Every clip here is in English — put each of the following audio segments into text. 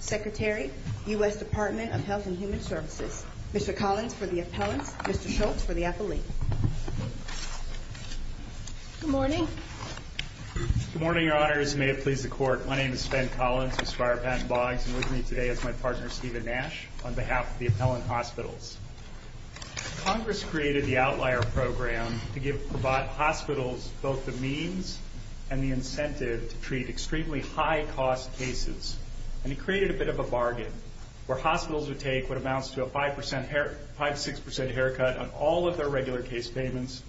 Secretary, U.S. Department of Health and Human Services, Mr. Collins for the appellant, Mr. Schultz for the affiliate. Good morning. Good morning, Your Honor. As you may have pleased the court, my name is Ben Collins. I'm with my partner, Stephen Nash, on behalf of the appellant hospitals. Congress created the outlier program to give hospitals both the means and the incentive to treat extremely high cost cases. And he created a bit of a bargain where hospitals would take what amounts to a 5, 6 percent haircut on all of their regular case payments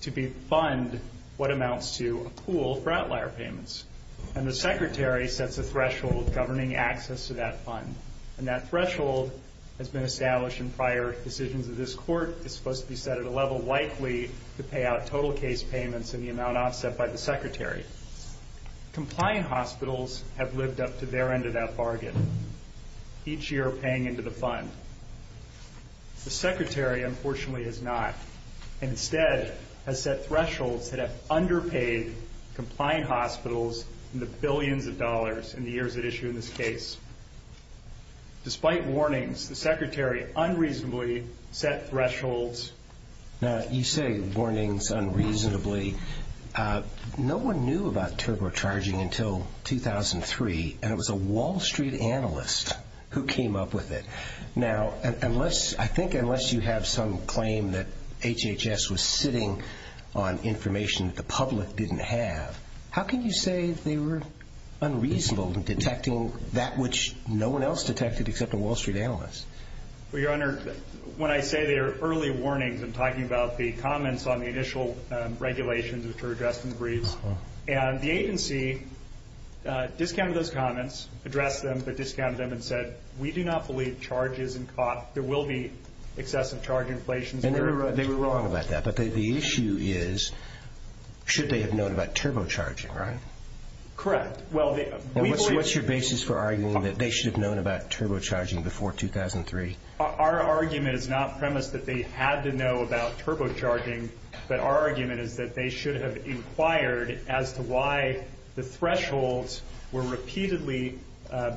to be fund what amounts to a pool for outlier payments. And the secretary sets a threshold governing access to that fund. And that threshold has been established in prior decisions of this court. It's supposed to be set at a level likely to pay out total case payments in the amount offset by the secretary. Compliant hospitals have lived up to their end of that bargain, each year paying into the fund. The secretary, unfortunately, has not. Despite warnings, the secretary unreasonably set thresholds. You say warnings unreasonably. No one knew about turbocharging until 2003, and it was a Wall Street analyst who came up with it. Now, I think unless you have some claim that HHS was sitting on information that the public didn't have, how can you say they were unreasonable in detecting that which no one else detected except a Wall Street analyst? Well, Your Honor, when I say there are early warnings, I'm talking about the comments on the initial regulations, which were addressed in brief. And the agency discounted those comments, addressed them, but discounted them and said, we do not believe there will be excessive charge inflation. And they were wrong about that, but the issue is should they have known about turbocharging, right? Correct. What's your basis for arguing that they should have known about turbocharging before 2003? Our argument is not premise that they had to know about turbocharging, but our argument is that they should have inquired as to why the thresholds were repeatedly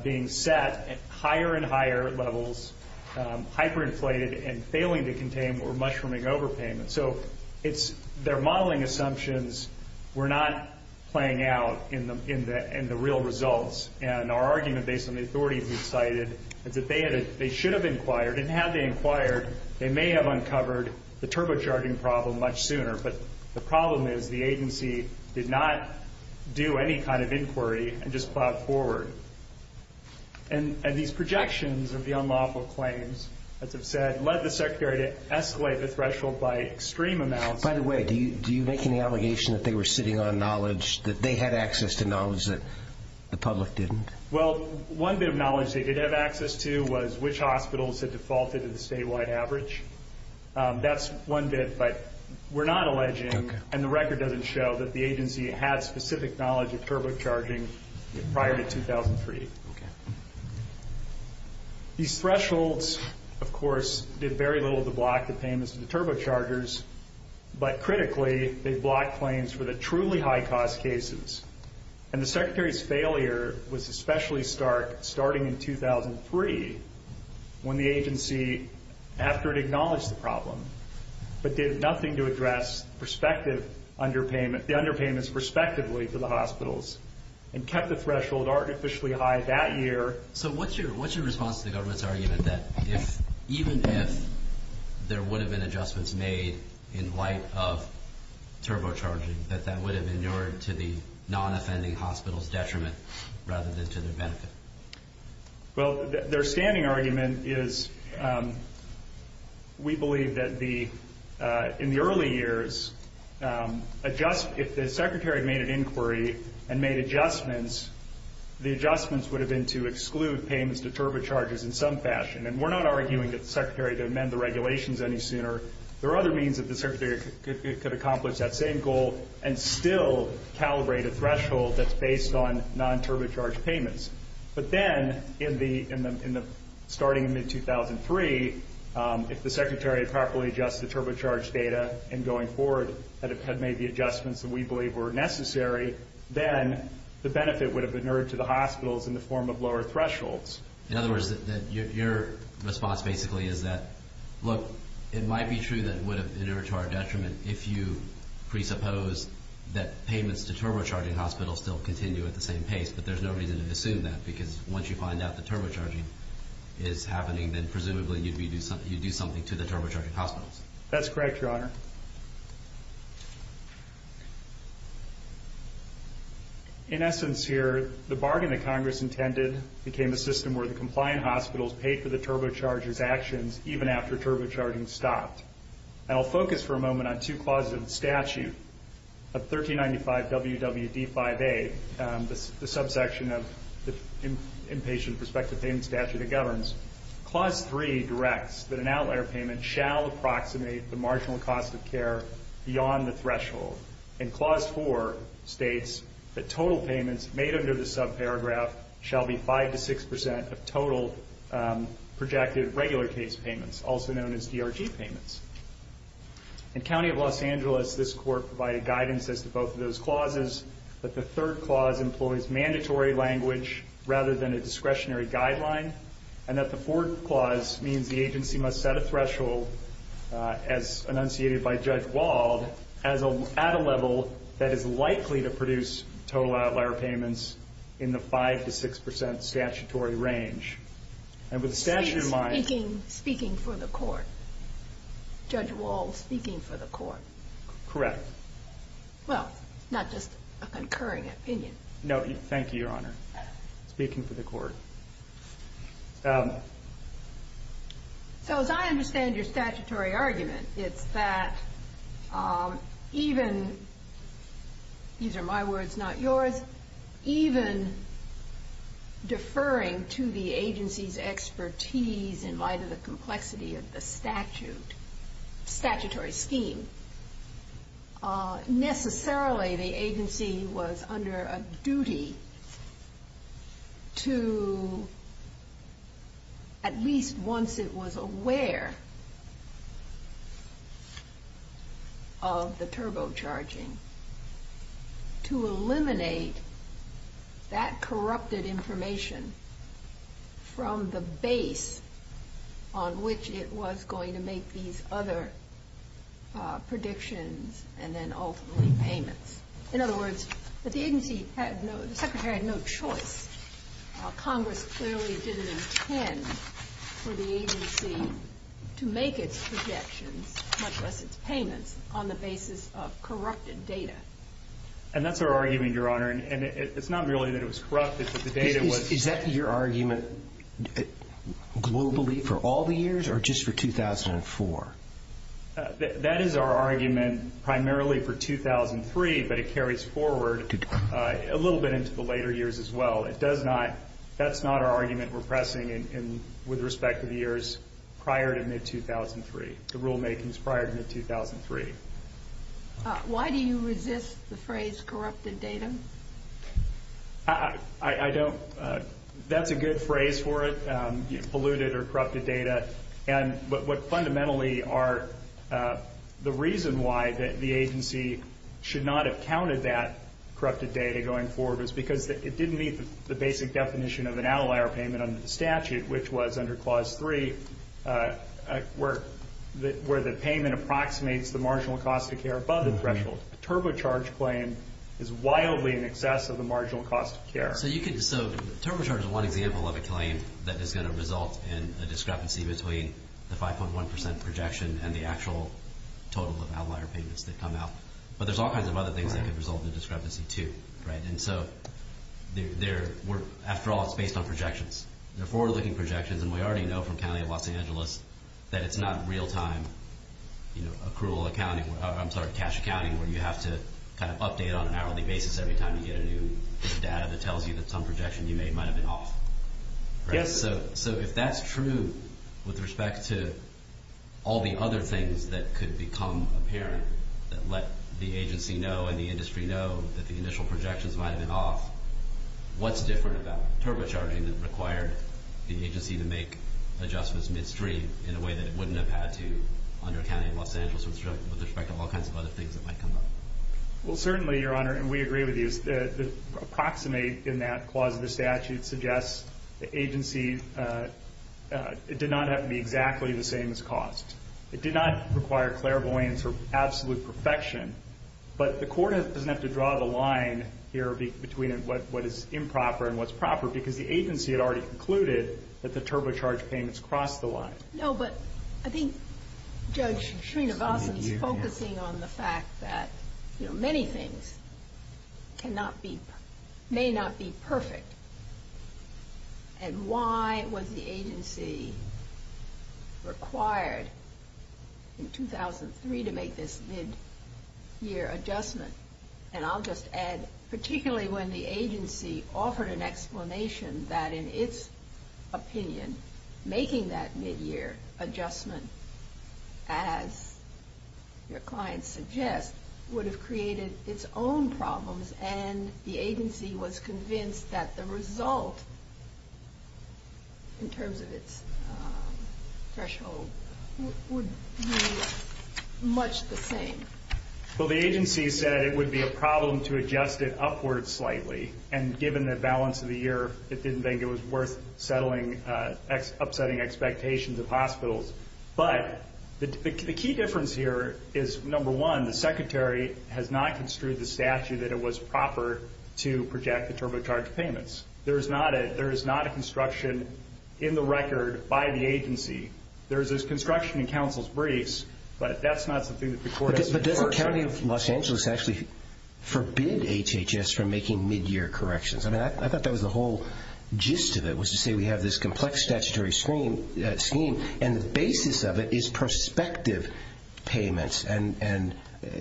being set at higher and higher levels, hyperinflated and failing to contain or mushrooming overpayment. So their modeling assumptions were not playing out in the real results, and our argument based on the authority we cited is that they should have inquired, and had they inquired, they may have uncovered the turbocharging problem much sooner. But the problem is the agency did not do any kind of inquiry and just plowed forward. And these projections of the unlawful claims, as I said, led the Secretary to escalate the threshold by an extreme amount. By the way, do you make any allegation that they were sitting on knowledge, that they had access to knowledge that the public didn't? Well, one bit of knowledge they did have access to was which hospitals had defaulted in the statewide average. That's one bit, but we're not alleging, and the record doesn't show, that the agency had specific knowledge of turbocharging prior to 2003. These thresholds, of course, did very little to block the payments to the turbochargers, but critically, they blocked claims for the truly high-cost cases. And the Secretary's failure was especially stark starting in 2003 when the agency, after it acknowledged the problem, but did nothing to address prospective underpayment, the underpayments respectively for the hospitals, and kept the threshold artificially high that year. So what's your response to the government's argument that even if there would have been adjustments made in light of turbocharging, that that would have been in order to be non-offending hospitals' detriment rather than to their benefit? Well, their standing argument is we believe that in the early years, if the Secretary made an inquiry and made adjustments, the adjustments would have been to exclude payments to turbochargers in some fashion. And we're not arguing that the Secretary should amend the regulations any sooner. There are other means that the Secretary could accomplish that same goal and still calibrate a threshold that's based on non-turbocharged payments. But then, starting in mid-2003, if the Secretary had properly adjusted turbocharged data and going forward had made the adjustments that we believe were necessary, then the benefit would have been in order to the hospitals in the form of lower thresholds. In other words, your response basically is that, look, it might be true that it would have been in order to our detriment if you presupposed that payments to turbocharging hospitals still continue at the same pace, but there's no need to assume that because once you find out the turbocharging is happening, then presumably you'd do something to the turbocharging hospitals. That's correct, Your Honor. In essence here, the bargain that Congress intended became a system where the compliant hospitals paid for the turbocharger's action even after turbocharging stopped. And I'll focus for a moment on two clauses of the statute of 1395 WWB 5A, the subsection of the Inpatient Prospective Payment Statute that governs. Clause 3 directs that an outlier payment shall approximate the marginal cost of care beyond the threshold. And Clause 4 states that total payments made under the subparagraph shall be 5 to 6 percent of total projected regular case payments, also known as DRT payments. In County of Los Angeles, this court provided guidance as to both of those clauses, that the third clause employs mandatory language rather than a discretionary guideline, and that the fourth clause means the agency must set a threshold as enunciated by Judge Wald at a level that is likely to produce total outlier payments in the 5 to 6 percent statutory range. And with the statute in mind... Speaking for the court. Judge Wald speaking for the court. Correct. Well, not just a concurring opinion. No, thank you, Your Honor. Speaking for the court. So as I understand your statutory argument, it's that even... These are my words, not yours. Even deferring to the agency's expertise in light of the complexity of the statute, statutory scheme, necessarily the agency was under a duty to, at least once it was aware of the turbocharging, to eliminate that corrupted information from the base on which it was going to make these other predictions and then ultimately payments. In other words, the agency had no... The Secretary had no choice. Congress clearly didn't intend for the agency to make its projections, payments on the basis of corrupted data. And that's our argument, Your Honor. And it's not really that it was corrupted, but the data was... Is that your argument globally for all the years or just for 2004? That is our argument primarily for 2003, but it carries forward a little bit into the later years as well. It does not... That's not our argument we're pressing with respect to the years prior to mid-2003. The rulemaking is prior to mid-2003. Why do you resist the phrase corrupted data? I don't... That's a good phrase for it, polluted or corrupted data. And what fundamentally are... The reason why the agency should not have counted that corrupted data going forward is because it didn't meet the basic definition of an outlier payment under the statute, which was under Clause 3, where the payment approximates the marginal cost of care above the threshold. The turbocharge claim is wildly in excess of the marginal cost of care. So you could... So turbocharge is one example of a claim that is going to result in a discrepancy between the 5.1% projection and the actual total of outlier payments that come out. But there's all kinds of other things that can result in a discrepancy too, right? And so they're... After all, it's based on projections. They're forward-looking projections, and we already know from County of Los Angeles that it's not real-time, you know, accrual accounting, I'm sorry, cash accounting, where you have to kind of update on an hourly basis every time you get a new data that tells you that some projections you made might have been off. Yes. So if that's true with respect to all the other things that could become apparent that let the agency know and the industry know that the initial projections might have been off, what's different about turbocharging that required the agency to make adjustments midstream in a way that it wouldn't have had to under County of Los Angeles with respect to all kinds of other things that might come up? Well, certainly, Your Honor, and we agree with you, the approximate in that clause of the statute suggests the agency... It did not have to be exactly the same as cost. It did not require clairvoyance or absolute perfection, but the court doesn't have to draw the line here between what is improper and what's proper because the agency had already concluded that the turbocharged payments crossed the line. No, but I think Judge Srinivasan is focusing on the fact that, you know, many things may not be perfect, and why was the agency required in 2003 to make this mid-year adjustment? And I'll just add, particularly when the agency offered an explanation that, in its opinion, making that mid-year adjustment, as your client suggests, would have created its own problems and the agency was convinced that the result, in terms of its threshold, would be much the same. Well, the agency said it would be a problem to adjust it upward slightly, and given the balance of the year, it didn't think it was worth upsetting expectations of hospitals. But the key difference here is, number one, the secretary has not construed the statute that it was proper to project the turbocharged payments. There is not a construction in the record by the agency. There's this construction in counsel's briefs, but that's not something that the court has to defer. But the county of Los Angeles actually forbid HHS from making mid-year corrections, and I thought that was the whole gist of it, was to say we have this complex statutory scheme, and the basis of it is prospective payments.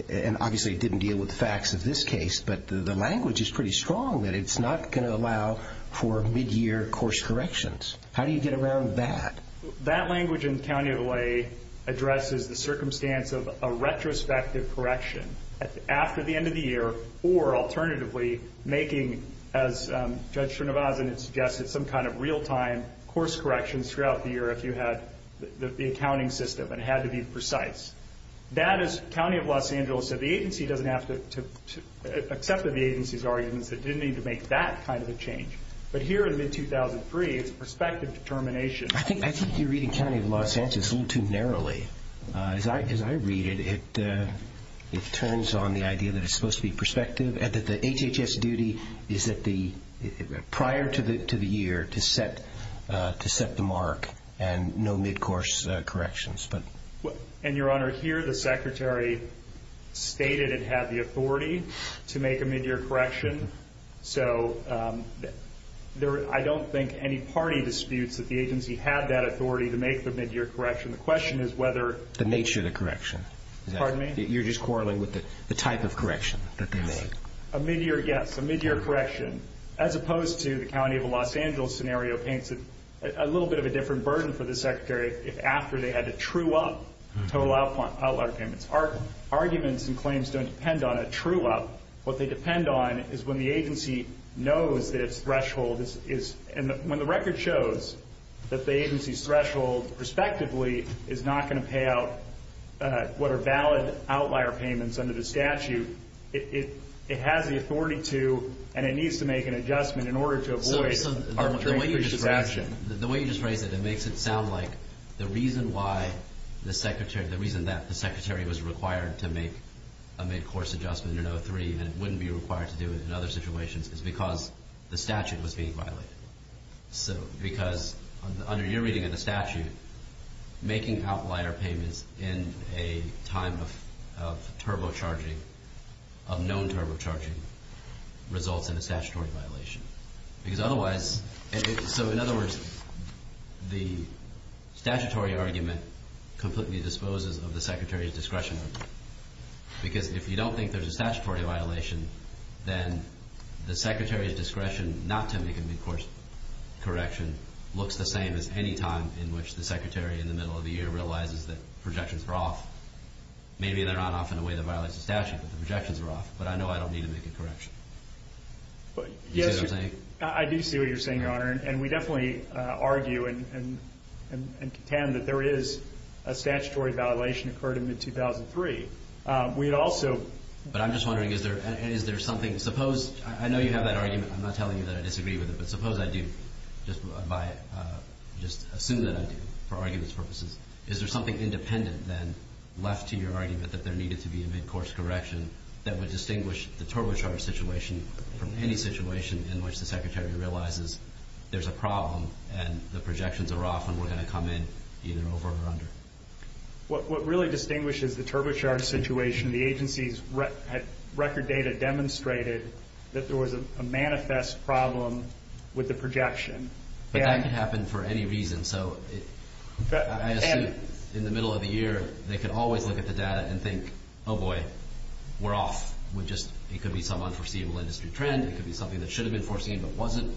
And obviously it didn't deal with the facts of this case, but the language is pretty strong that it's not going to allow for mid-year course corrections. How do you get around that? That language in County of LA addresses the circumstance of a retrospective correction after the end of the year, or, alternatively, making, as Judge Chernivov suggested, some kind of real-time course correction throughout the year if you had the accounting system, and it had to be precise. That is, County of Los Angeles said the agency doesn't have to accept the agency's argument, but didn't need to make that kind of a change. But here, as in 2003, it's prospective determination. I think you're reading County of Los Angeles a little too narrowly. As I read it, it turns on the idea that it's supposed to be prospective, and that the HHS duty is prior to the year to set the mark and no mid-course corrections. And, Your Honor, here the Secretary stated it had the authority to make a mid-year correction. So I don't think any party disputes that the agency had that authority to make the mid-year correction. The question is whether the nature of the correction. Pardon me? You're just quarreling with the type of correction that they make. A mid-year guess, a mid-year correction, as opposed to the County of Los Angeles scenario paints a little bit of a different burden for the Secretary if after they had to true up total outlier payments. Arguments and claims don't depend on a true up. What they depend on is when the agency knows that its threshold is, and when the record shows that the agency's threshold, respectively, is not going to pay out what are valid outlier payments under the statute, it has the authority to, and it needs to make an adjustment in order to avoid our transfer of the statute. The way you just phrased it, it makes it sound like the reason why the Secretary, the reason that the Secretary was required to make a mid-course adjustment in 03 and it wouldn't be required to do it in other situations is because the statute was being violated. Because under your reading of the statute, making outlier payments in a time of turbocharging, of known turbocharging, results in a statutory violation. Because otherwise, so in other words, the statutory argument completely disposes of the Secretary's discretion. Because if you don't think there's a statutory violation, then the Secretary's discretion not to make a mid-course correction looks the same as any time in which the Secretary in the middle of the year realizes that projections are off. Maybe they're not off in a way that violates the statute, but the projections are off. But I know I don't need to make a correction. Do you see what I'm saying? I do see what you're saying, Your Honor. And we definitely argue and contend that there is a statutory violation occurred in mid-2003. We'd also... But I'm just wondering, is there something, suppose, I know you have that argument. I'm not telling you that I disagree with it, but suppose I do, just by, just assume that I do, for argument's purposes. Is there something independent then left to your argument that there needed to be a mid-course correction that would distinguish the TurboCharge situation from any situation in which the Secretary realizes there's a problem and the projections are off and we're going to come in even over and under? What really distinguishes the TurboCharge situation, the agency's record data demonstrated that there was a manifest problem with the projection. That can happen for any reason. I assume in the middle of the year they can always look at the data and think, oh boy, we're off. It could be some unforeseen industry trend. It could be something that should have been foreseen but wasn't.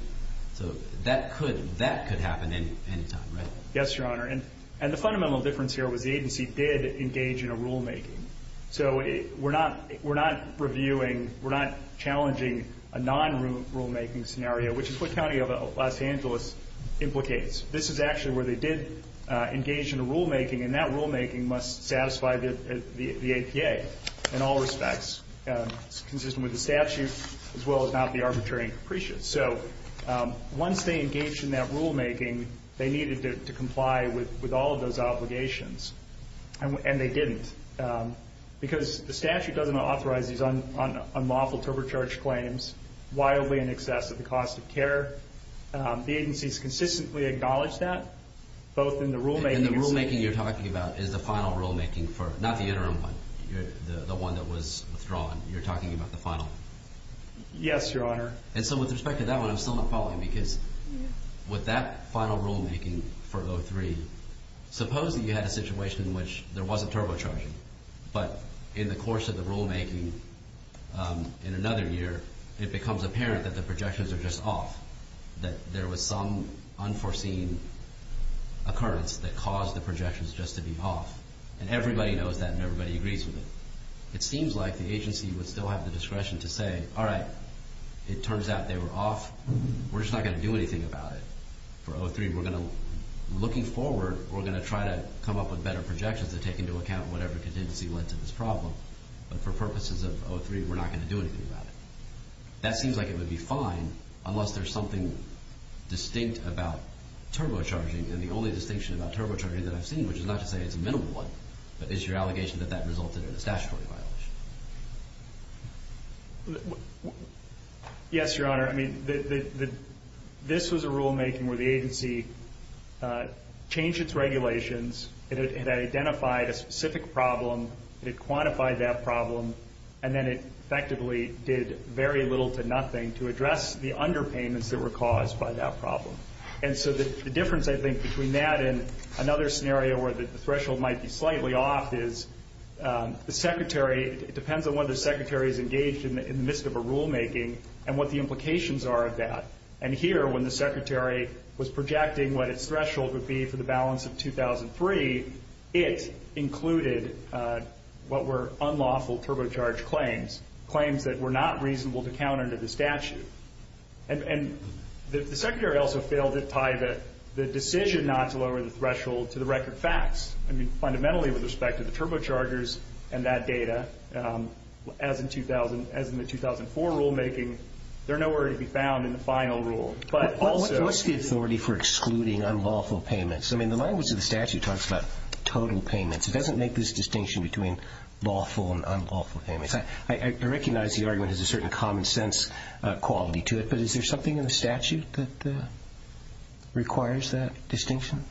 So that could happen any time, right? Yes, Your Honor. And the fundamental difference here was the agency did engage in a rulemaking. So we're not reviewing, we're not challenging a non-rulemaking scenario, which is what County of Los Angeles implicates. This is actually where they did engage in a rulemaking, and that rulemaking must satisfy the APA in all respects, consistent with the statute as well as not be arbitrary and capricious. So once they engaged in that rulemaking, they needed to comply with all of those obligations, and they didn't. Because the statute doesn't authorize these unlawful TurboCharge claims wildly in excess of the cost of care. The agency has consistently acknowledged that, both in the rulemaking. And the rulemaking you're talking about is the final rulemaking, not the interim one, the one that was withdrawn. You're talking about the final? Yes, Your Honor. And so with respect to that one, I'm still not following, because with that final rulemaking for those three, supposing you had a situation in which there wasn't TurboCharging, but in the course of the rulemaking in another year, it becomes apparent that the projections are just off, that there was some unforeseen occurrence that caused the projections just to be off. And everybody knows that, and everybody agrees with it. It seems like the agency would still have the discretion to say, all right, it turns out they were off, we're just not going to do anything about it. For 03, we're going to, looking forward, we're going to try to come up with better projections to take into account whatever contingency went to this problem. But for purposes of 03, we're not going to do anything about it. That seems like it would be fine, unless there's something distinct about TurboCharging, and the only distinction about TurboCharging that I've seen, which is not to say it's a minimal one, but it's your allegation that that resulted in a statutory violation. Yes, Your Honor. I mean, this was a rulemaking where the agency changed its regulations, it identified a specific problem, it quantified that problem, and then it effectively did very little to nothing to address the underpayments that were caused by that problem. And so the difference, I think, between that and another scenario where the threshold might be slightly off is, the secretary, it depends on whether the secretary is engaged in the midst of a rulemaking and what the implications are of that. And here, when the secretary was projecting what its threshold would be for the balance of 2003, it included what were unlawful TurboCharge claims, claims that were not reasonable to count under the statute. And the secretary also failed to tie the decision not to lower the threshold to the record facts. I mean, fundamentally with respect to the TurboChargers and that data, as in the 2004 rulemaking, they're nowhere to be found in the final rule. What's the authority for excluding unlawful payments? I mean, the language of the statute talks about total payments. It doesn't make this distinction between lawful and unlawful payments. I recognize the argument has a certain common sense quality to it, but is there something in the statute that requires that distinction?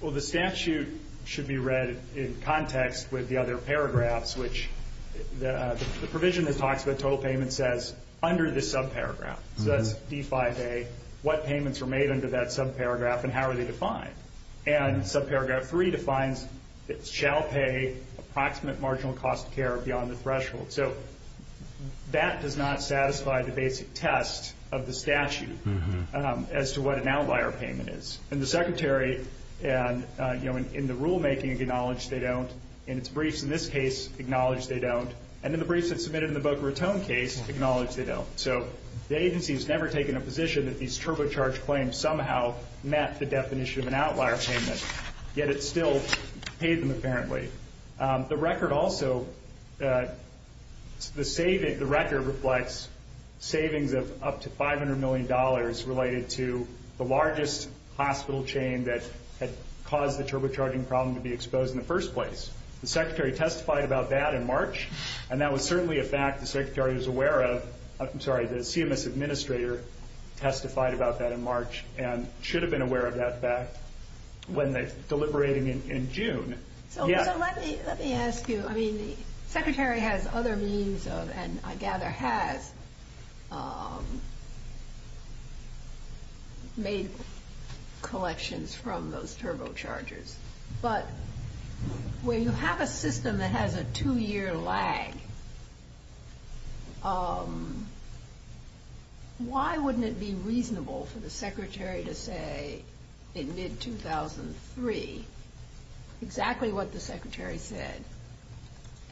Well, the statute should be read in context with the other paragraphs, which the provision that talks about total payments says under the subparagraph, the D5A, what payments are made under that subparagraph and how are they defined. And subparagraph 3 defines it shall pay approximate marginal cost of care beyond the threshold. So that does not satisfy the basic test of the statute as to what an outlier payment is. And the secretary, you know, in the rulemaking acknowledged they don't. And its briefs in this case acknowledge they don't. And then the briefs that submitted in the Boca Raton case acknowledge they don't. So the agency has never taken a position that these TurboCharge claims somehow met the definition of an outlier payment, yet it still pays them apparently. The record also, the record reflects savings of up to $500 million related to the largest hospital chain that caused the TurboCharging problem to be exposed in the first place. The secretary testified about that in March, and that was certainly a fact the secretary was aware of. I'm sorry, the CMS administrator testified about that in March and should have been aware of that fact when they deliberated in June. Let me ask you, I mean, the secretary has other means of, and I gather has, made collections from those TurboChargers. But when you have a system that has a two-year lag, why wouldn't it be reasonable for the secretary to say in mid-2003 exactly what the secretary said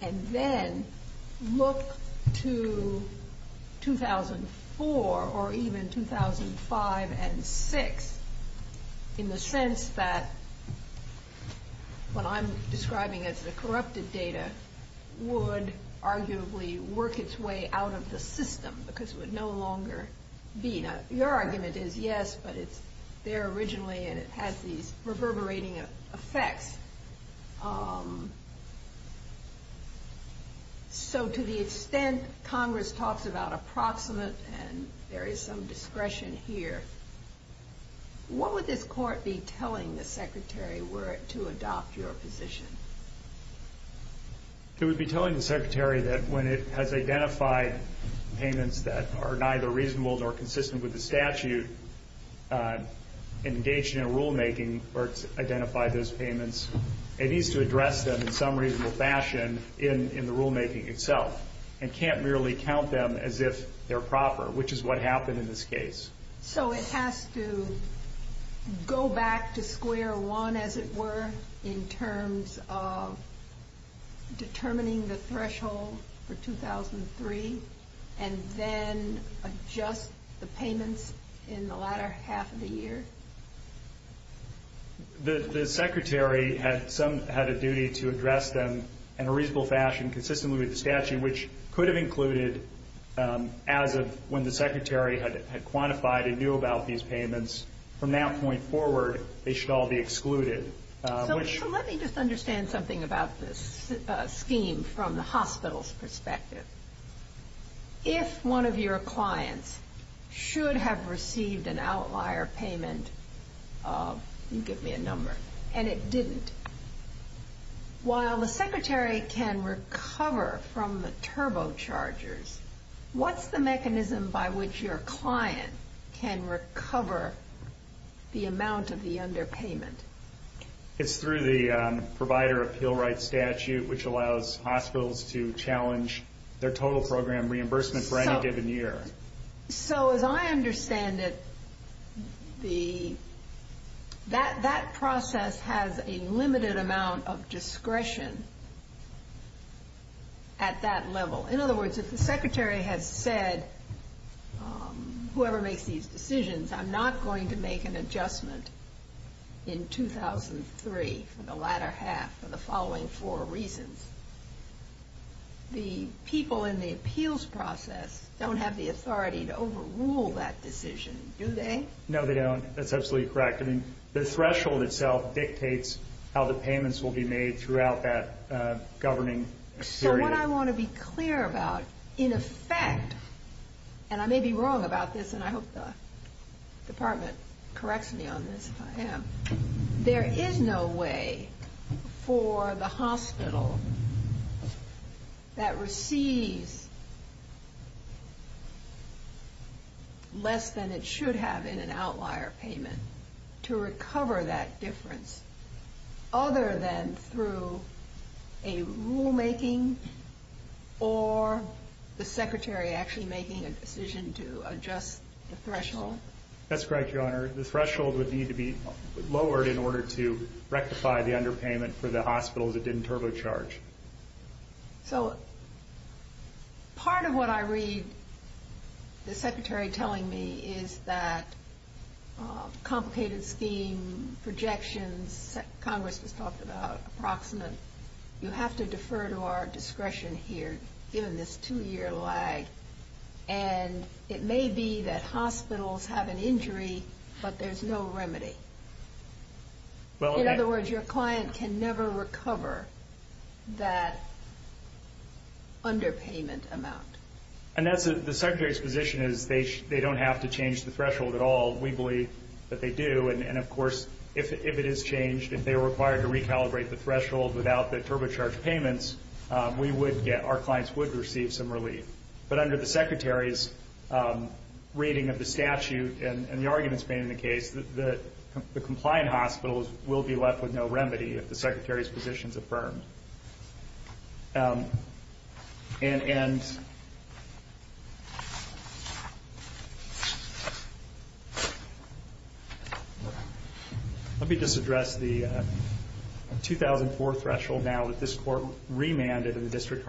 and then look to 2004 or even 2005 and 6 in the sense that what I'm describing as the corrupted data would arguably work its way out of the system because it would no longer be. Now your argument is yes, but it's there originally and it has these reverberating effects. So to the extent Congress talks about approximates and there is some discretion here, what would this court be telling the secretary were it to adopt your position? It would be telling the secretary that when it has identified payments that are neither reasonable nor consistent with the statute engaged in rulemaking or identified as payments, it needs to address them in some reasonable fashion in the rulemaking itself and can't merely count them as if they're proper, which is what happened in this case. So it has to go back to square one as it were in terms of determining the threshold for 2003 and then adjust the payments in the latter half of the year? The secretary had a duty to address them in a reasonable fashion consistently with the statute in which could have included as of when the secretary had quantified and knew about these payments. From that point forward, they should all be excluded. So let me just understand something about this scheme from the hospital's perspective. If one of your clients should have received an outlier payment, you give me a number, and it didn't, while the secretary can recover from the turbochargers, what's the mechanism by which your client can recover the amount of the underpayment? It's through the provider appeal right statute which allows hospitals to challenge their total program reimbursement for any given year. So as I understand it, that process has a limited amount of discretion at that level. In other words, if the secretary had said, whoever makes these decisions, I'm not going to make an adjustment in 2003 for the latter half for the following four reasons. The people in the appeals process don't have the authority to overrule that decision, do they? No, they don't. That's absolutely correct. The threshold itself dictates how the payments will be made throughout that governing period. So what I want to be clear about, in effect, and I may be wrong about this, and I hope the department corrects me on this if I am, there is no way for the hospital that receives less than it should have in an outlier payment to recover that difference other than through a rulemaking or the secretary actually making a decision to adjust the threshold. That's correct, Your Honor. The threshold would need to be lowered in order to rectify the underpayment for the hospital that didn't turbocharge. So part of what I read the secretary telling me is that complicated scheme projections, Congress has talked about approximate. You have to defer to our discretion here given this two-year lag, and it may be that hospitals have an injury, but there's no remedy. In other words, your client can never recover that underpayment amount. And the secretary's position is they don't have to change the threshold at all. We believe that they do, and, of course, if it is changed, if they are required to recalibrate the threshold without the turbocharged payments, we would get, our clients would receive some relief. But under the secretary's reading of the statute and the arguments made in the case, the compliant hospitals will be left with no remedy if the secretary's position is affirmed. And let me just address the 2004 threshold now that this court remanded in the district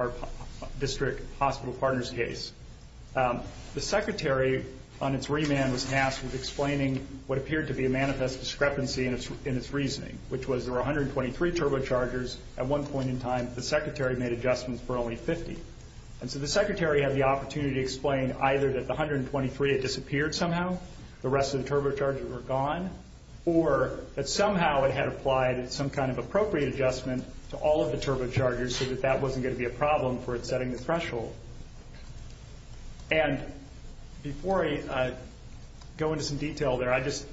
hospital partners case. The secretary on its remand was masked with explaining what appeared to be a manifest discrepancy in its reasoning, which was there were 123 turbochargers. At one point in time, the secretary made adjustments for only 50. And so the secretary had the opportunity to explain either that the 123 had disappeared somehow, the rest of the turbochargers were gone, or that somehow it had applied some kind of appropriate adjustment to all of the turbochargers so that that wasn't going to be a problem for setting the threshold. And before I go into some detail there, I just,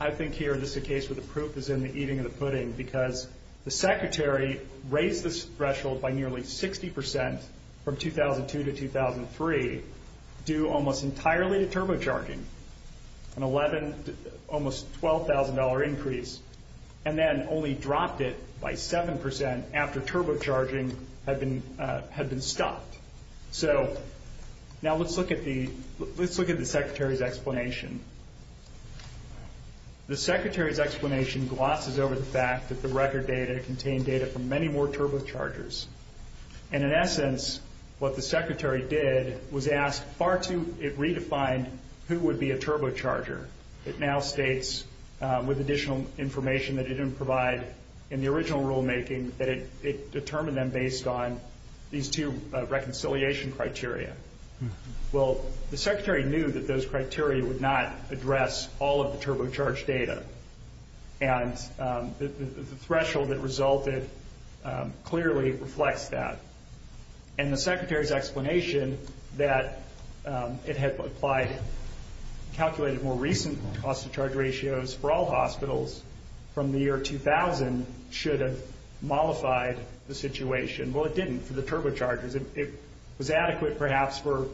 I think here this is a case where the proof is in the eating of the pudding because the secretary raised the threshold by nearly 60% from 2002 to 2003, due almost entirely to turbocharging, an almost $12,000 increase, and then only dropped it by 7% after turbocharging had been stopped. So now let's look at the secretary's explanation. The secretary's explanation glosses over the fact that the record data contained data from many more turbochargers. And in essence, what the secretary did was ask far too, it redefined who would be a turbocharger. It now states, with additional information that it didn't provide in the original rulemaking, that it determined them based on these two reconciliation criteria. Well, the secretary knew that those criteria would not address all of the turbocharged data, and the threshold that resulted clearly reflects that. And the secretary's explanation that it had applied, calculated more recent cost-to-charge ratios for all hospitals from the year 2000 should have mollified the situation. Well, it didn't for the turbochargers. It was adequate, perhaps, for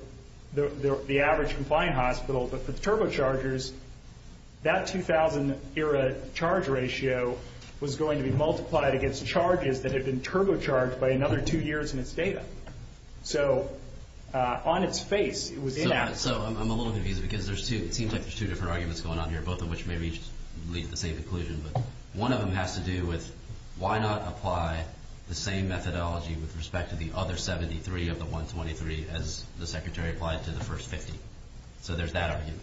the average compliant hospital, but for the turbochargers, that 2000-era charge ratio was going to be multiplied against charges that had been turbocharged by another two years in its data. So on its face, it was inadequate. So I'm a little confused because there seems like there's two different arguments going on here, both of which maybe lead to the same conclusion. One of them has to do with why not apply the same methodology with respect to the other 73 of the 123 as the secretary applies to the first 50? So there's that argument,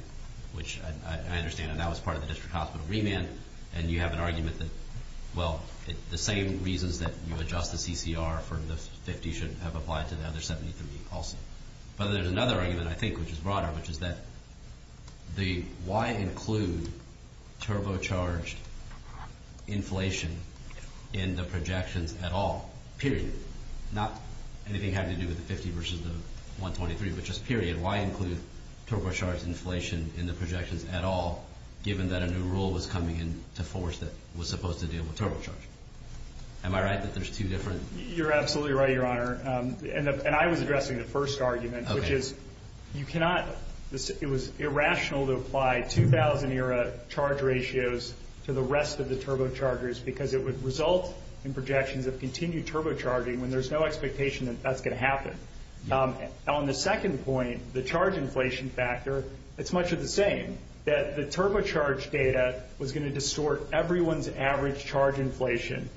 which I understand. And that was part of the district hospital remand. And you have an argument that, well, the same reasons that you adjust the CCR for the 50 should have applied to the other 73 also. But there's another argument, I think, which is broader, which is that why include turbocharged inflation in the projections at all? Period. Not anything having to do with the 50 versus the 123, but just period. Why include turbocharged inflation in the projections at all, given that a new rule was coming in to force that was supposed to deal with turbocharging? Am I right that there's two different? You're absolutely right, Your Honor. And I was addressing the first argument, which is you cannot – it was irrational to apply 2000-era charge ratios to the rest of the turbochargers because it would result in projections of continued turbocharging when there's no expectation that that's going to happen. On the second point, the charge inflation factor, it's much of the same, that the turbocharged data was going to distort everyone's average charge inflation.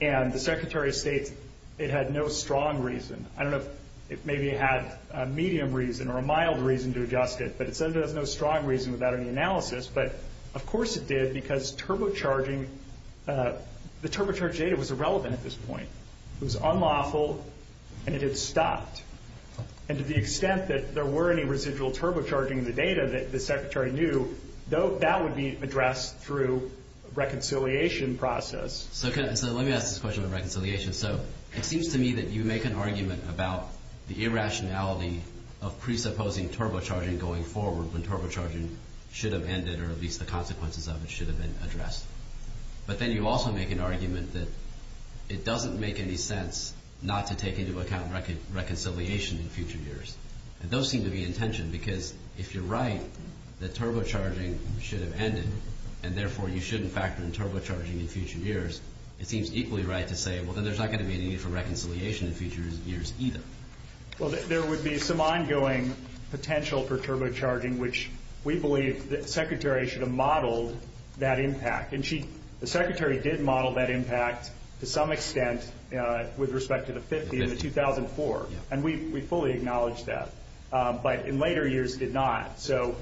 And the Secretary of State, it had no strong reason. I don't know if maybe it had a medium reason or a mild reason to adjust it, but it doesn't have no strong reason without any analysis. But, of course, it did because turbocharging – the turbocharged data was irrelevant at this point. It was unlawful, and it had stopped. And to the extent that there were any residual turbocharging in the data, the Secretary knew that would be addressed through a reconciliation process. So let me ask this question of reconciliation. So it seems to me that you make an argument about the irrationality of presupposing turbocharging going forward when turbocharging should have ended or at least the consequences of it should have been addressed. But then you also make an argument that it doesn't make any sense not to take into account reconciliation in future years. And those seem to be in tension because, if you're right, that turbocharging should have ended and, therefore, you shouldn't factor in turbocharging in future years, it seems equally right to say, well, then there's not going to be any need for reconciliation in future years either. Well, there would be some ongoing potential for turbocharging, which we believe the Secretary should have modeled that impact and the Secretary did model that impact to some extent with respect to the 50 in 2004, and we fully acknowledge that, but in later years did not. So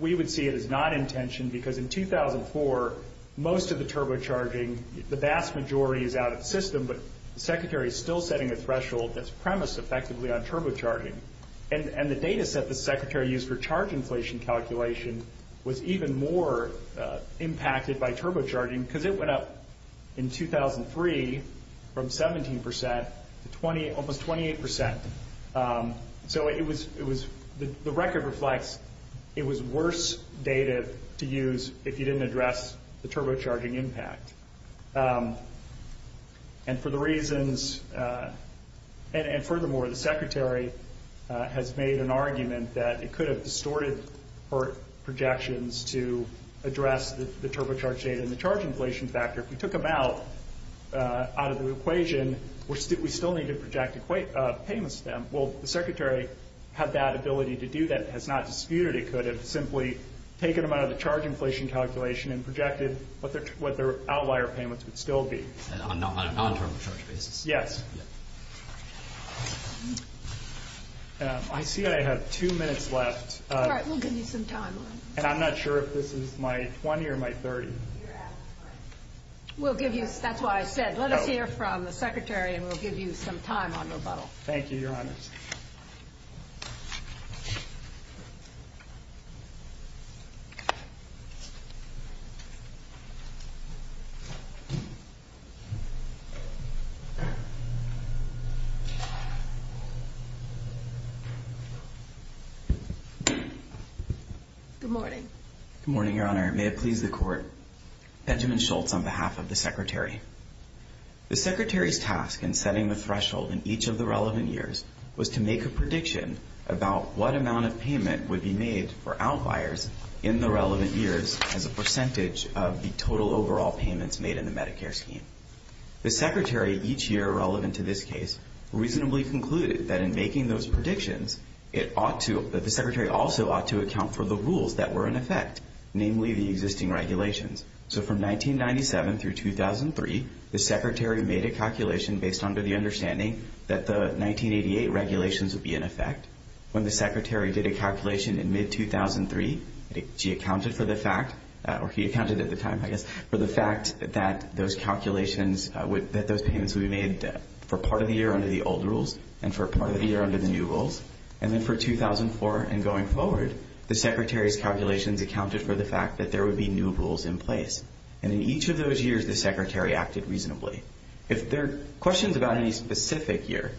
we would see it as not in tension because in 2004, most of the turbocharging, the vast majority is out of the system, but the Secretary is still setting a threshold that's premised effectively on turbocharging. And the data set the Secretary used for charge inflation calculations was even more impacted by turbocharging because it went up in 2003 from 17% to almost 28%. So the record reflects it was worse data to use if you didn't address the turbocharging impact. And for the reasons, and furthermore, the Secretary has made an argument that it could have distorted her projections to address the turbocharged data and the charge inflation factor. If we took them out of the equation, we still need to project a payment stem. Well, the Secretary had that ability to do that. It's not disputed it could have simply taken them out of the charge inflation calculation and projected what their outlier payments would still be. I see I have two minutes left. All right, we'll give you some time. And I'm not sure if this is my 20 or my 30. We'll give you, that's why I said, let us hear from the Secretary and we'll give you some time on rebuttal. Thank you, Your Honor. Thank you. Good morning. Good morning, Your Honor. May it please the Court. Benjamin Schultz on behalf of the Secretary. The Secretary's task in setting the threshold in each of the relevant years was to make a prediction about what amount of payment would be made for outliers in the relevant years as a percentage of the total overall payments made in the Medicare scheme. The Secretary, each year relevant to this case, reasonably concluded that in making those predictions, that the Secretary also ought to account for the rules that were in effect, namely the existing regulations. So from 1997 through 2003, the Secretary made a calculation based on the understanding that the 1988 regulations would be in effect. When the Secretary did a calculation in mid-2003, she accounted for the fact, or he accounted at the time, I guess, for the fact that those calculations would, that those payments would be made for part of the year under the old rules and for part of the year under the new rules. And then for 2004 and going forward, the Secretary's calculations accounted for the fact that there would be new rules in place. And in each of those years, the Secretary acted reasonably. If there are questions about any specific year,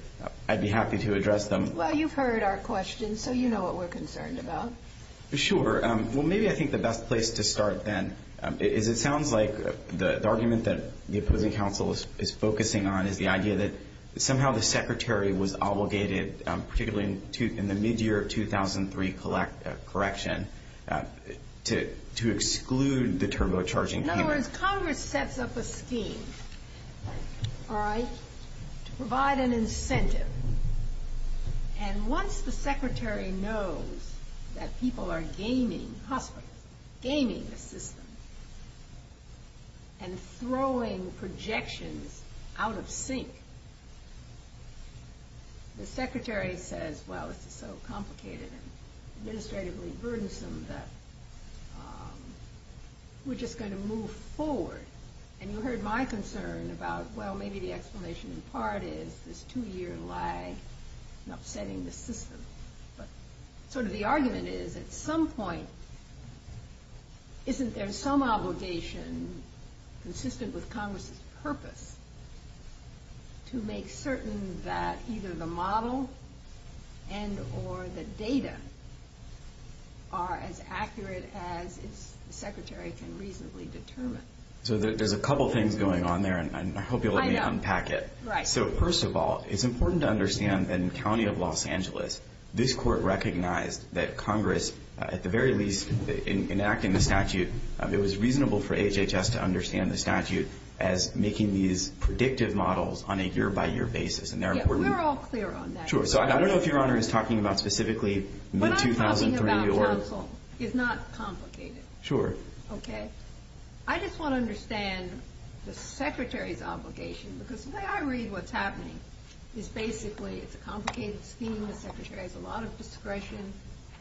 I'd be happy to address them. Well, you've heard our questions, so you know what we're concerned about. Sure. Well, maybe I think the best place to start, then, is it sounds like the argument that the Appropriate Council is focusing on is the idea that somehow the Secretary was obligated, particularly in the mid-year of 2003 correction, to exclude the turbocharging payment. Well, the word Congress sets up a scheme, all right, to provide an incentive. And once the Secretary knows that people are gaming the system and throwing projections out of sync, the Secretary says, well, it's so complicated and administratively burdensome that we're just going to move forward. And you heard my concern about, well, maybe the explanation in part is this two-year lag in upsetting the system. But sort of the argument is, at some point, to make certain that either the model and or the data are as accurate as the Secretary can reasonably determine. So there's a couple things going on there, and I hope you'll let me unpack it. Right. So, first of all, it's important to understand that in the county of Los Angeles, this court recognized that Congress, at the very least, in enacting the statute, it was reasonable for HHS to understand the statute as making these predictive models on a year-by-year basis. And they're important. We're all clear on that. Sure. So I don't know if Your Honor is talking about specifically mid-2003 or... What I'm talking about, counsel, is not complicated. Sure. Okay? I just want to understand the Secretary's obligation. Because the way I read what's happening is basically it's a complicated scheme. The Secretary has a lot of discretion.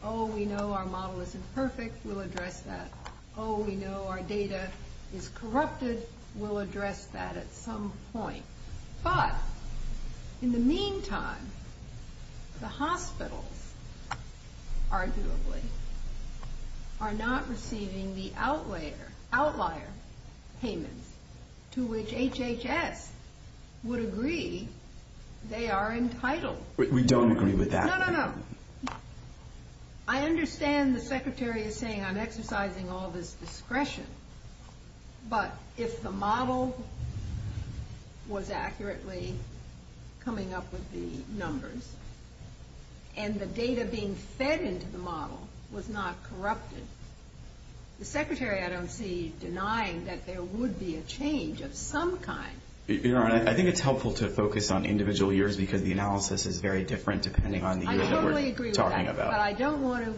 Oh, we know our model isn't perfect. We'll address that. Oh, we know our data is corrupted. We'll address that at some point. But in the meantime, the hospitals, arguably, are not receiving the outlier payments to which HHS would agree they are entitled. We don't agree with that. No, no, no. I understand the Secretary is saying I'm exercising all this discretion. But if the model was accurately coming up with the numbers and the data being fed into the model was not corrupted, the Secretary, I don't see denying that there would be a change of some kind. Your Honor, I think it's helpful to focus on individual years because the analysis is very different depending on the year. I totally agree with that. But I don't want to,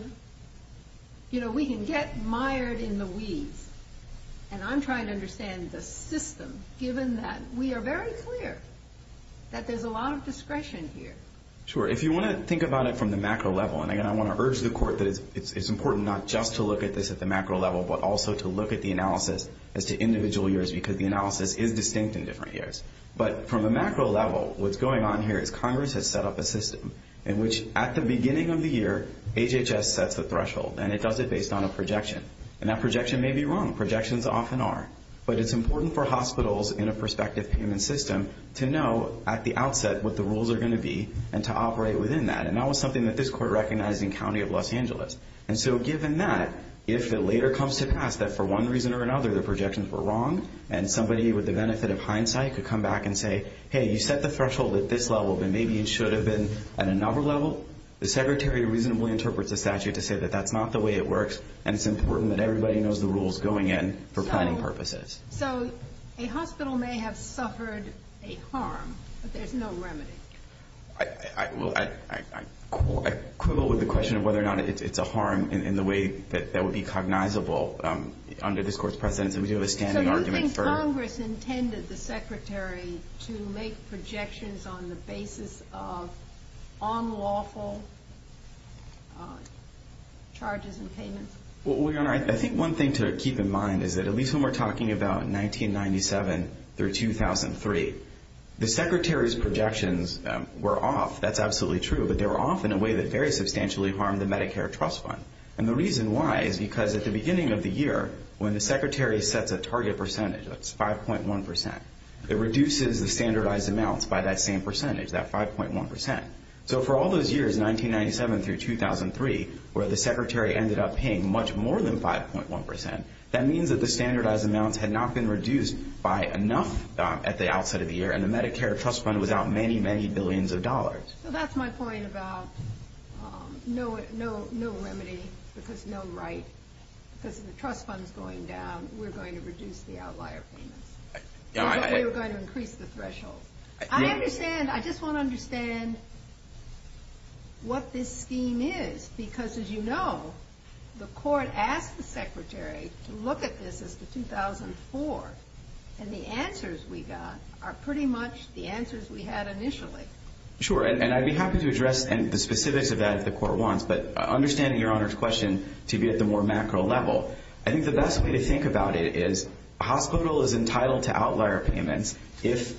you know, we can get mired in the we's. And I'm trying to understand the system given that we are very clear that there's a lot of discretion here. Sure. If you want to think about it from the macro level, and I want to urge the Court that it's important not just to look at this at the macro level but also to look at the analysis as to individual years because the analysis is distinct in different years. But from the macro level, what's going on here is Congress has set up a system in which at the beginning of the year, HHS sets the threshold, and it does it based on a projection. And that projection may be wrong. Projections often are. But it's important for hospitals in a prospective payment system to know at the outset what the rules are going to be and to operate within that. And that was something that this Court recognized in the County of Los Angeles. And so given that, if it later comes to pass that for one reason or another the projections were wrong and somebody with the benefit of hindsight could come back and say, hey, you set the threshold at this level and maybe it should have been at another level. The Secretary reasonably interprets the statute to say that that's not the way it works and it's important that everybody knows the rules going in for planning purposes. So a hospital may have suffered a harm, but there's no remedy. I quibble with the question of whether or not it's a harm in the way that would be cognizable under this Court's precedence. So you think Congress intended the Secretary to make projections on the basis of unlawful charges and payments? I think one thing to keep in mind is that at least when we're talking about 1997 through 2003, the Secretary's projections were off. That's absolutely true. But they were off in a way that very substantially harmed the Medicare Trust Fund. And the reason why is because at the beginning of the year when the Secretary sets a target percentage, that's 5.1%, it reduces the standardized amounts by that same percentage, that 5.1%. So for all those years, 1997 through 2003, where the Secretary ended up paying much more than 5.1%, that means that the standardized amounts had not been reduced by enough at the outset of the year and the Medicare Trust Fund was out many, many billions of dollars. So that's my point about no limiting because no right. Because if the Trust Fund is going down, we're going to reduce the outlier payment. We're going to increase the threshold. I understand. I just want to understand what this scheme is because, as you know, the Court asked the Secretary to look at this as the 2004, and the answers we got are pretty much the answers we had initially. Sure, and I'd be happy to address the specifics of that if the Court wants, but I understand Your Honor's question to be at the more macro level. I think the best way to think about it is a hospital is entitled to outlier payments if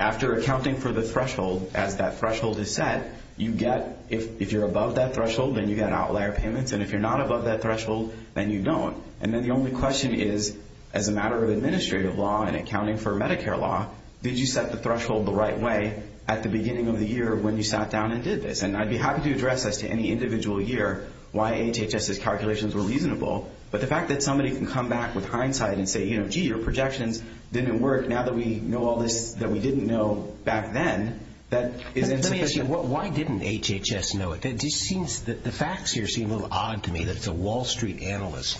after accounting for the threshold, as that threshold is set, you get if you're above that threshold, then you get outlier payments, and if you're not above that threshold, then you don't. And then the only question is, as a matter of administrative law and accounting for Medicare law, did you set the threshold the right way at the beginning of the year when you sat down and did this? And I'd be happy to address this to any individual here, why HHS's calculations were reasonable, but the fact that somebody can come back with hindsight and say, you know, gee, your projections didn't work, now that we know all this that we didn't know back then. Let me ask you, why didn't HHS know it? The facts here seem a little odd to me that it's a Wall Street analyst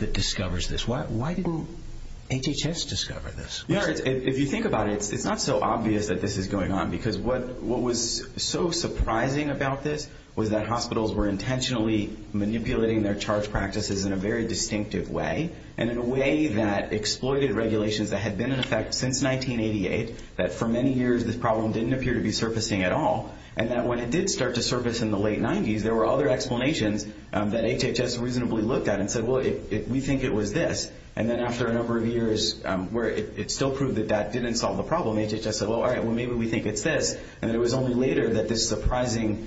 that discovers this. Why didn't HHS discover this? Your Honor, if you think about it, it's not so obvious that this is going on because what was so surprising about this was that hospitals were intentionally manipulating their charge practices in a very distinctive way, and in a way that exploited regulations that had been in effect since 1988, that for many years this problem didn't appear to be surfacing at all, and that when it did start to surface in the late 90s, there were other explanations that HHS reasonably looked at and said, well, if we think it was this, and then after a number of years where it still proved that that didn't solve the problem, HHS said, well, all right, well, maybe we think it's this, and it was only later that this surprising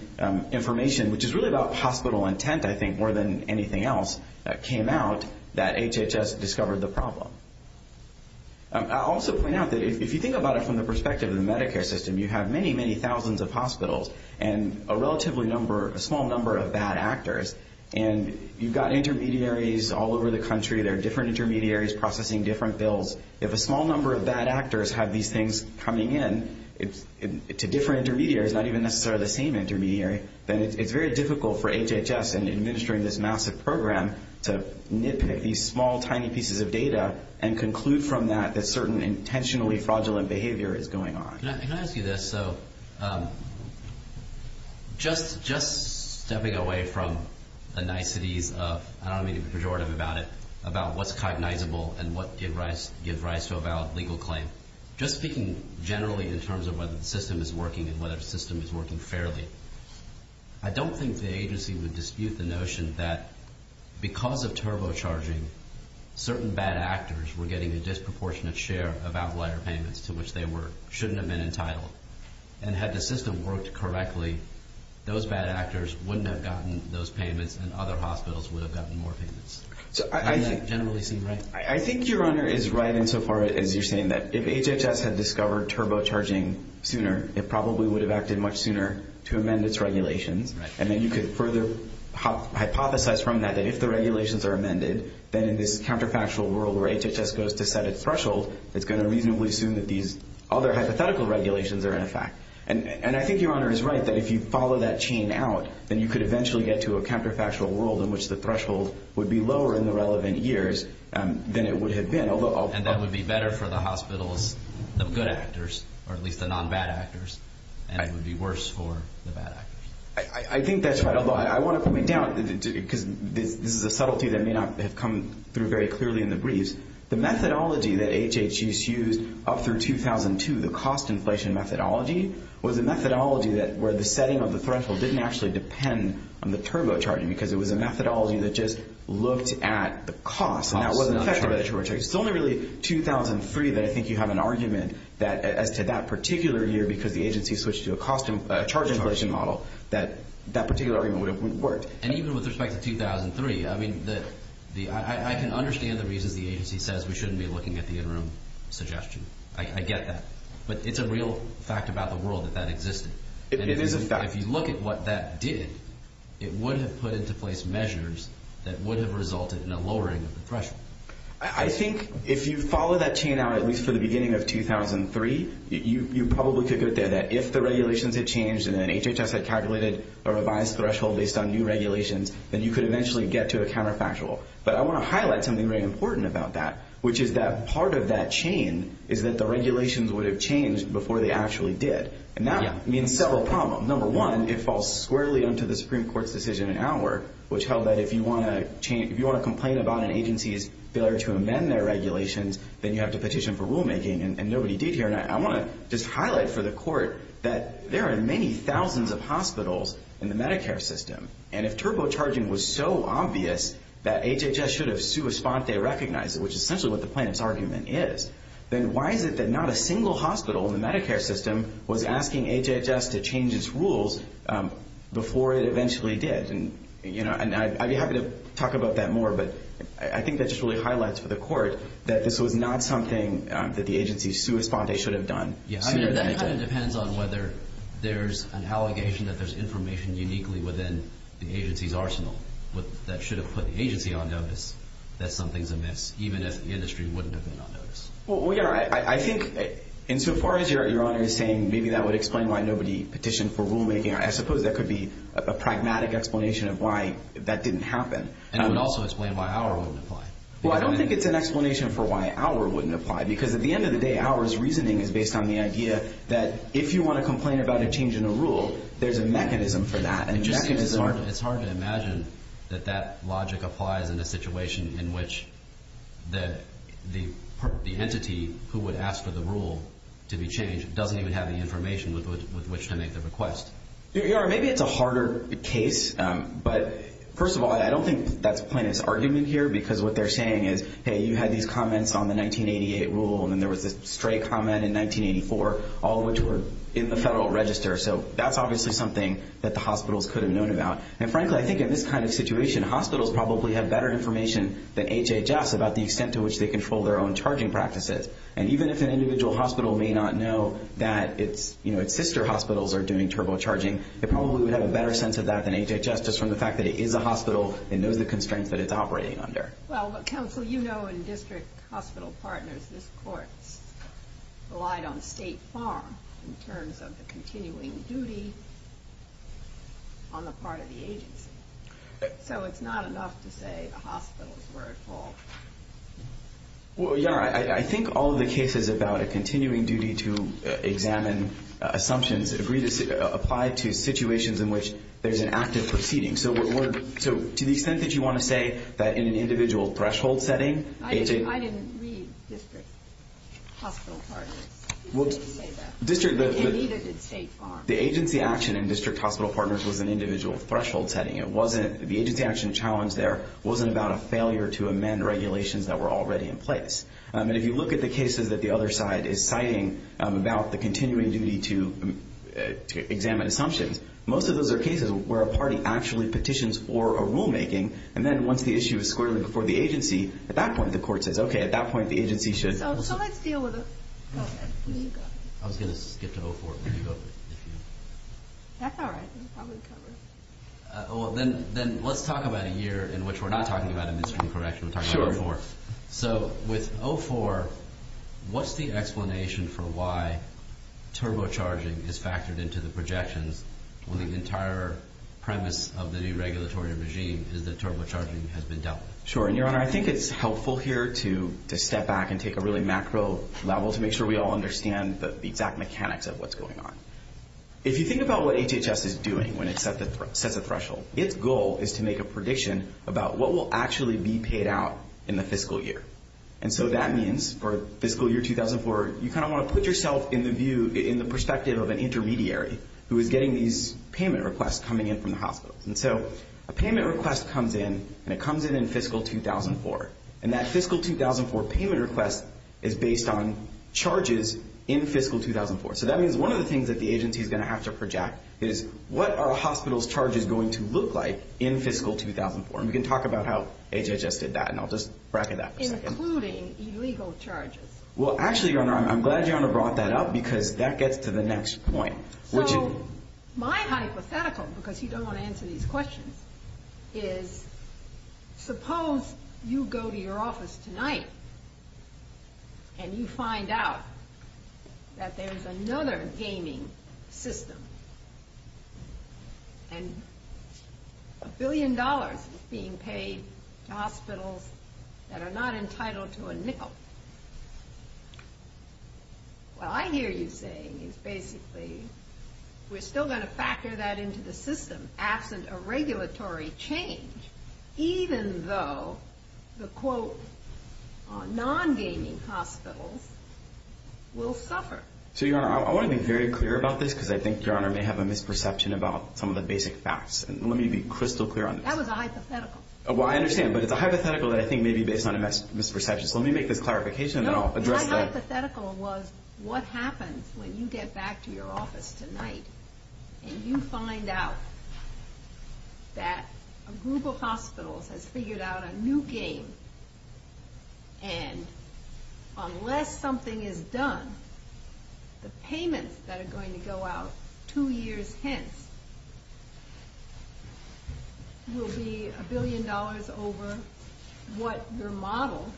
information, which is really about hospital intent, I think, more than anything else that came out that HHS discovered the problem. I'll also point out that if you think about it from the perspective of the Medicare system, you have many, many thousands of hospitals and a small number of bad actors, and you've got intermediaries all over the country. There are different intermediaries processing different bills. If a small number of bad actors have these things coming in to different intermediaries, not even necessarily the same intermediary, then it's very difficult for HHS in administering this massive program to nitpick these small, tiny pieces of data and conclude from that that certain intentionally fraudulent behavior is going on. Can I ask you this? So just stepping away from the niceties of, I don't want to be pejorative about it, about what's cognizable and what gives rise to a valid legal claim, just speaking generally in terms of whether the system is working and whether the system is working fairly, I don't think the agency would dispute the notion that because of turbocharging, certain bad actors were getting a disproportionate share of appellate payments to which they shouldn't have been entitled. And had the system worked correctly, those bad actors wouldn't have gotten those payments and other hospitals would have gotten more payments. Does that generally seem right? I think your honor is right insofar as you're saying that if HHS had discovered turbocharging sooner, it probably would have acted much sooner to amend its regulations, and then you could further hypothesize from that that if the regulations are amended, then in this counterfactual world where HHS goes to set its threshold, it's going to reasonably assume that these other hypothetical regulations are in effect. And I think your honor is right that if you follow that chain out, then you could eventually get to a counterfactual world in which the threshold would be lower in the relevant years than it would have been. And that would be better for the hospitals, the good actors, or at least the non-bad actors, and it would be worse for the bad actors. I think that's right. I want to come in now because this is a subtlety that may not have come through very clearly in the brief. The methodology that HHS used up through 2002, the cost inflation methodology, was a methodology where the setting of the threshold didn't actually depend on the turbocharging because it was a methodology that just looked at the cost. It's only really 2003 that I think you have an argument that to that particular year because the agency switched to a charge inflation model that that particular argument would have worked. And even with respect to 2003, I mean, I can understand the reason the agency says we shouldn't be looking at the interim suggestion. I get that. But it's a real fact about the world that that existed. If you look at what that did, it would have put into place measures that would have resulted in a lowering of the threshold. I think if you follow that chain out at least to the beginning of 2003, you probably could get there. If the regulations had changed and then HHS had calculated a revised threshold based on new regulations, then you could eventually get to a counterfactual. But I want to highlight something very important about that, which is that part of that chain is that the regulations would have changed before they actually did. And that means several problems. Number one, it falls squarely into the Supreme Court's decision in Howard, which held that if you want to complain about an agency's failure to amend their regulations, then you have to petition for rulemaking, and nobody did here. I want to just highlight for the Court that there are many thousands of hospitals in the Medicare system, and if turbocharging was so obvious that HHS should have sua sponte recognized it, which is essentially what the plaintiff's argument is, then why is it that not a single hospital in the Medicare system was asking HHS to change its rules before it eventually did? And I'd be happy to talk about that more, but I think that just really highlights for the Court that this was not something that the agency sua sponte should have done. Yeah, I mean, it kind of depends on whether there's an allegation that there's information uniquely within the agency's arsenal that should have put the agency on notice that something's amiss, even if the industry wouldn't have been on notice. Well, I think insofar as you're saying maybe that would explain why nobody petitioned for rulemaking, I suppose that could be a pragmatic explanation of why that didn't happen. And it would also explain why our rule didn't apply. Well, I don't think it's an explanation for why our rule wouldn't apply, because at the end of the day, Howard's reasoning is based on the idea that if you want to complain about a change in a rule, there's a mechanism for that. It's hard to imagine that that logic applies in a situation in which the entity who would ask for the rule to be changed doesn't even have the information with which to make the request. Maybe it's a harder case, but first of all, I don't think that plaintiff's argument here, because what they're saying is, hey, you had these comments on the 1988 rule, and then there was this stray comment in 1984, all of which is the Federal Register. So that's obviously something that the hospitals could have known about. And frankly, I think in this kind of situation, hospitals probably have better information than HHS about the extent to which they control their own charging practices. And even if an individual hospital may not know that its sister hospitals are doing turbocharging, they probably would have a better sense of that than HHS just from the fact that it is a hospital and knows the constraints that it's operating under. Well, but counsel, you know in district hospital partners, this court relied on the State Farm in terms of the continuing duty on the part of the agency. So it's not enough to say the hospitals were at fault. Well, yeah, I think all of the cases about a continuing duty to examine assumptions agree to apply to situations in which there's an active proceeding. So to the extent that you want to say that in an individual threshold setting, I didn't read district hospital partners. Well, the agency action in district hospital partners was an individual threshold setting. The agency action challenge there wasn't about a failure to amend regulations that were already in place. And if you look at the cases that the other side is citing about the continuing duty to examine assumptions, most of those are cases where a party actually petitions for a rulemaking. And then once the issue is squarely before the agency, at that point the court says, okay, at that point the agency should... So let's deal with it. I was going to skip to 04. That's all right. Then let's talk about a year in which we're not talking about a misdemeanor correction. We're talking about 04. So with 04, what's the explanation for why turbocharging is factored into the projection when the entire premise of the new regulatory regime is that turbocharging has been dealt with? Sure. Your Honor, I think it's helpful here to step back and take a really macro level to make sure we all understand the exact mechanics of what's going on. If you think about what HHS is doing when it sets a threshold, its goal is to make a prediction about what will actually be paid out in the fiscal year. And so that means for fiscal year 2004, you kind of want to put yourself in the view, in the perspective of an intermediary who is getting these payment requests coming in from the hospital. And so a payment request comes in, and it comes in in fiscal 2004. And that fiscal 2004 payment request is based on charges in fiscal 2004. So that means one of the things that the agency is going to have to project is what are a hospital's charges going to look like in fiscal 2004? And we can talk about how HHS did that, and I'll just bracket that. Including illegal charges. Well, actually, Your Honor, I'm glad you brought that up because that gets to the next point. My hypothetical, because you don't want to answer these questions, is suppose you go to your office tonight, and you find out that there's another gaming system. And a billion dollars is being paid to hospitals that are not entitled to a nickel. Well, I hear you saying, basically, we're still going to factor that into the system, absent a regulatory change, even though the, quote, non-gaming hospitals will suffer. So, Your Honor, I want to be very clear about this, because I think Your Honor may have a misperception about some of the basic facts. And let me be crystal clear on this. That was a hypothetical. Well, I understand. But it's a hypothetical that I think may be based on a misperception. Let me make this clarification. No, my hypothetical was what happens when you get back to your office tonight, and you find out that a group of hospitals has figured out a new game. And unless something is done, the payments that are going to go out two years hence will be a billion dollars over what your model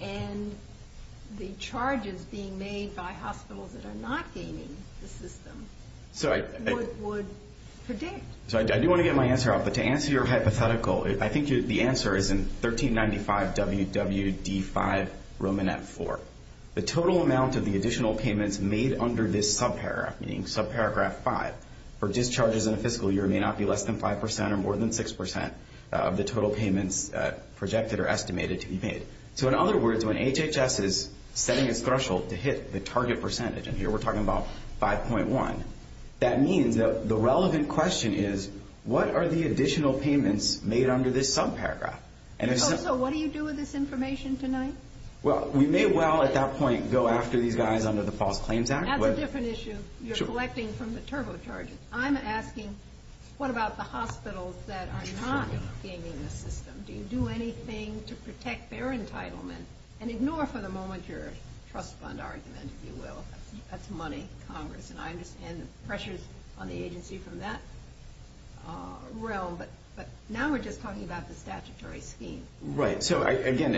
and the charges being made by hospitals that are not gaming the system would predict. So, I do want to get my answer out. But to answer your hypothetical, I think the answer is in 1395 WWV 5, Romanette 4. The total amount of the additional payments made under this subparagraph, meaning subparagraph 5, for discharges in a fiscal year may not be less than 5% or more than 6% of the total payments projected or estimated to be made. So, in other words, when HHS is setting its threshold to hit the target percentage, and here we're talking about 5.1, that means the relevant question is, what are the additional payments made under this subparagraph? So, what do you do with this information tonight? Well, we may well at that point go after these guys under the False Claims Act. That's a different issue. You're collecting from the terminal charges. I'm asking, what about the hospitals that are not gaming the system? Do you do anything to protect their entitlement? And ignore for the moment your trust fund argument, if you will. That's money, Congress, and I understand the pressures on the agency from that realm. But now we're just talking about the statutory scheme. Right. So, again,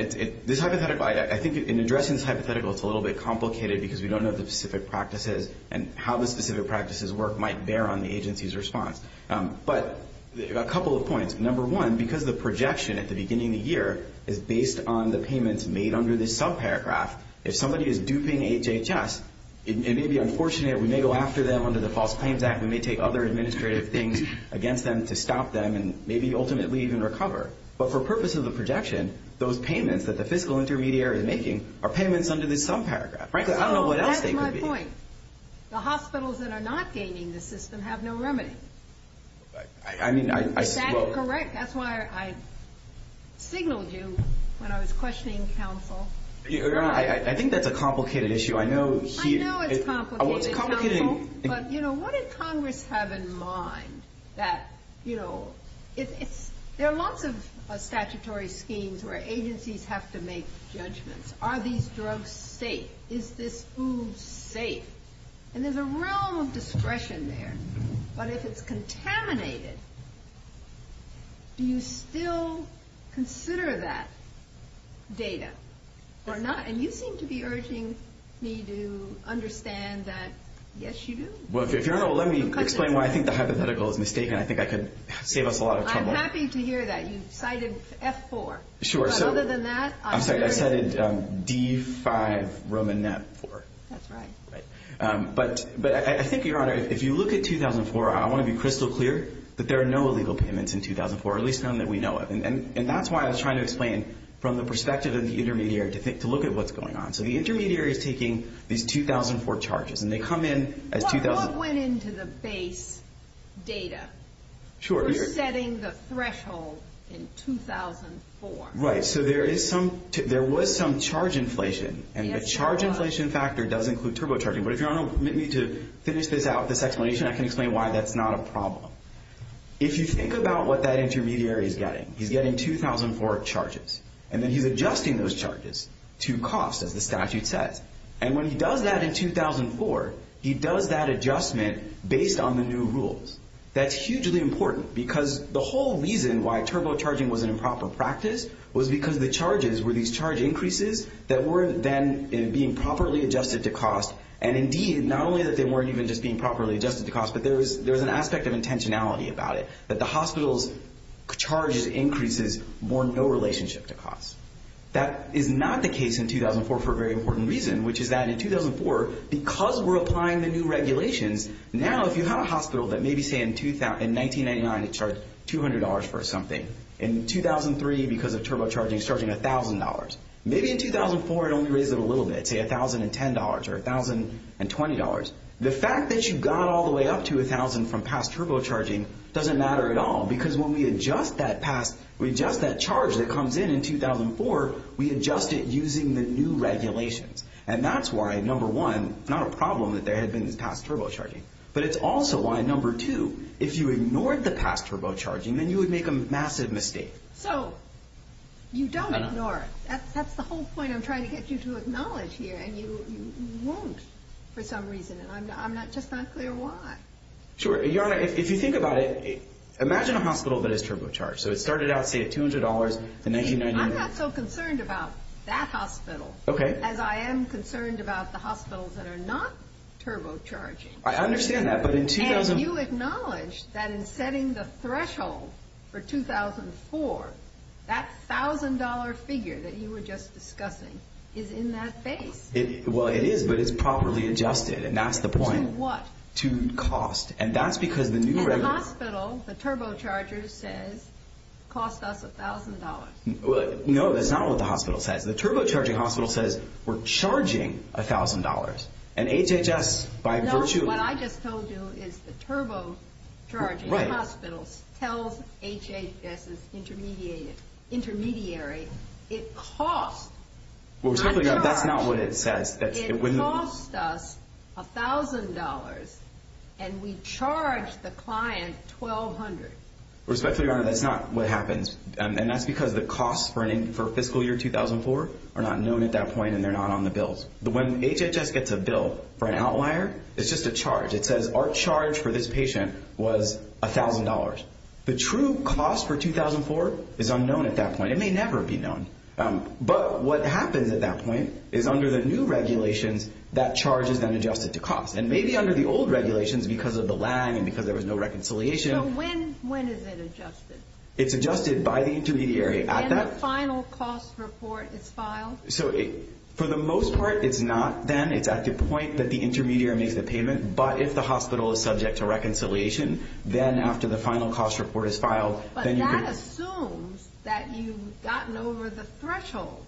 this hypothetical, I think in addressing this hypothetical, it's a little bit complicated because we don't know the specific practices and how the specific practices work might bear on the agency's response. But a couple of points. Number one, because the projection at the beginning of the year is based on the payments made under this subparagraph, if somebody is duping HHS, it may be unfortunate. We may go after them under the False Claims Act. We may take other administrative things against them to stop them and maybe ultimately even recover. But for purposes of projection, those payments that the fiscal intermediary is making are payments under this subparagraph. Frankly, I don't know what else they could be. That's my point. The hospitals that are not gaming the system have no remedy. I mean, I suppose. That's correct. That's why I signaled you when I was questioning counsel. I think that's a complicated issue. I know it's complicated. But, you know, what does Congress have in mind that, you know, there are lots of statutory schemes where agencies have to make judgments. Are these drugs safe? Is this food safe? And there's a realm of discretion there. But if it's contaminated, do you still consider that data or not? And you seem to be urging me to understand that, yes, you do. Well, let me explain why I think the hypothetical is mistaken. I think I could save us a lot of trouble. I'm happy to hear that. You cited F-4. Sure. Other than that. I'm sorry. I cited D-5 Roman MAP-4. That's right. Right. But I think, Your Honor, if you look at 2004, I want to be crystal clear that there are no illegal payments in 2004, at least none that we know of. And that's why I was trying to explain from the perspective of the intermediary to look at what's going on. So the intermediary is taking these 2004 charges, and they come in as 2004. What went into the base data? Sure. We're setting the threshold in 2004. Right. So there was some charge inflation. And the charge inflation factor does include turbocharging. But if you want me to finish this out, this explanation, I can explain why that's not a problem. If you think about what that intermediary is getting, he's getting 2004 charges, and then he's adjusting those charges to cost, as the statute says. And when he does that in 2004, he does that adjustment based on the new rules. That's hugely important because the whole reason why turbocharging was an improper practice was because the charges were these charge increases that weren't then being properly adjusted to cost. And, indeed, not only that they weren't even just being properly adjusted to cost, but there was an aspect of intentionality about it, that the hospital's charges increases were in no relationship to cost. That is not the case in 2004 for a very important reason, which is that in 2004, because we're applying the new regulations, now if you have a hospital that maybe, say, in 1999, it charged $200 for something, in 2003, because of turbocharging, it's charging $1,000. Maybe in 2004, it only raised it a little bit, say $1,010 or $1,020. The fact that you got all the way up to $1,000 from past turbocharging doesn't matter at all, because when we adjust that charge that comes in in 2004, we adjust it using the new regulations. And that's why, number one, it's not a problem that there has been past turbocharging, but it's also why, number two, if you ignored the past turbocharging, then you would make a massive mistake. So you don't ignore it. That's the whole point I'm trying to get you to acknowledge here, and you won't for some reason, and I'm just not clear why. Sure. Your Honor, if you think about it, imagine a hospital that is turbocharged. So it started out, say, at $200 in 1999. I'm not so concerned about that hospital as I am concerned about the hospitals that are not turbocharging. I understand that, but in 2004... That $1,000 figure that you were just discussing is in that state. Well, it is, but it's properly adjusted, and that's the point. To what? To cost, and that's because the new regulations... The hospital, the turbocharger says, costs us $1,000. No, that's not what the hospital says. The turbocharging hospital says we're charging $1,000, and HHS, by virtue of... What I just told you is the turbocharge hospital tells HHS's intermediary it costs... Well, respectfully, Your Honor, that's not what it says. It costs us $1,000, and we charge the client $1,200. Respectfully, Your Honor, that's not what happens, and that's because the costs for fiscal year 2004 are not known at that point, and they're not on the bills. When HHS gets a bill for an outlier, it's just a charge. It says our charge for this patient was $1,000. The true cost for 2004 is unknown at that point. It may never be known, but what happens at that point is under the new regulations, that charge is then adjusted to cost, and maybe under the old regulations, because of the lag and because there was no reconciliation... So when is it adjusted? And the final cost report is filed? For the most part, it's not then. It's at the point that the intermediary made the payment, but if the hospital is subject to reconciliation, then after the final cost report is filed... But that assumes that you've gotten over the threshold.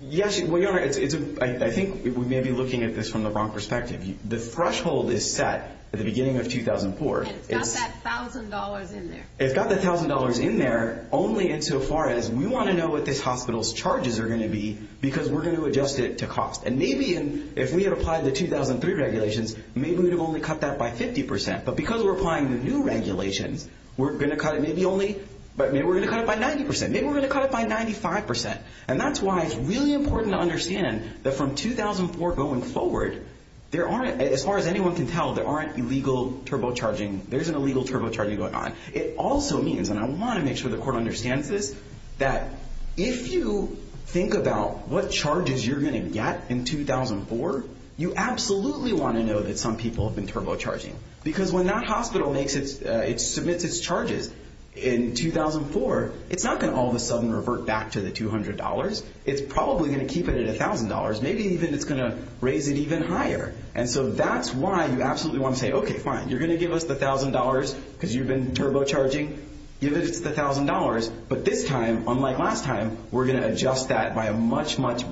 Yes, Your Honor, I think we may be looking at this from the wrong perspective. The threshold is set at the beginning of 2004. It's got that $1,000 in there. It's got that $1,000 in there only insofar as we want to know what this hospital's charges are going to be because we're going to adjust it to cost. And maybe if we had applied the 2003 regulations, maybe we would have only cut that by 50%, but because we're applying the new regulations, we're going to cut it maybe only... Maybe we're going to cut it by 90%. Maybe we're going to cut it by 95%. And that's why it's really important to understand that from 2004 going forward, as far as anyone can tell, there aren't illegal turbocharging. There isn't illegal turbocharging going on. It also means, and I want to make sure the Court understands this, that if you think about what charges you're going to get in 2004, you absolutely want to know that some people have been turbocharging because when that hospital submits its charges in 2004, it's not going to all of a sudden revert back to the $200. It's probably going to keep it at $1,000. Maybe even it's going to raise it even higher. And so that's why you absolutely want to say, okay, fine, you're going to give us the $1,000 because you've been turbocharging. Give us the $1,000, but this time, unlike last time, we're going to adjust that by a much, much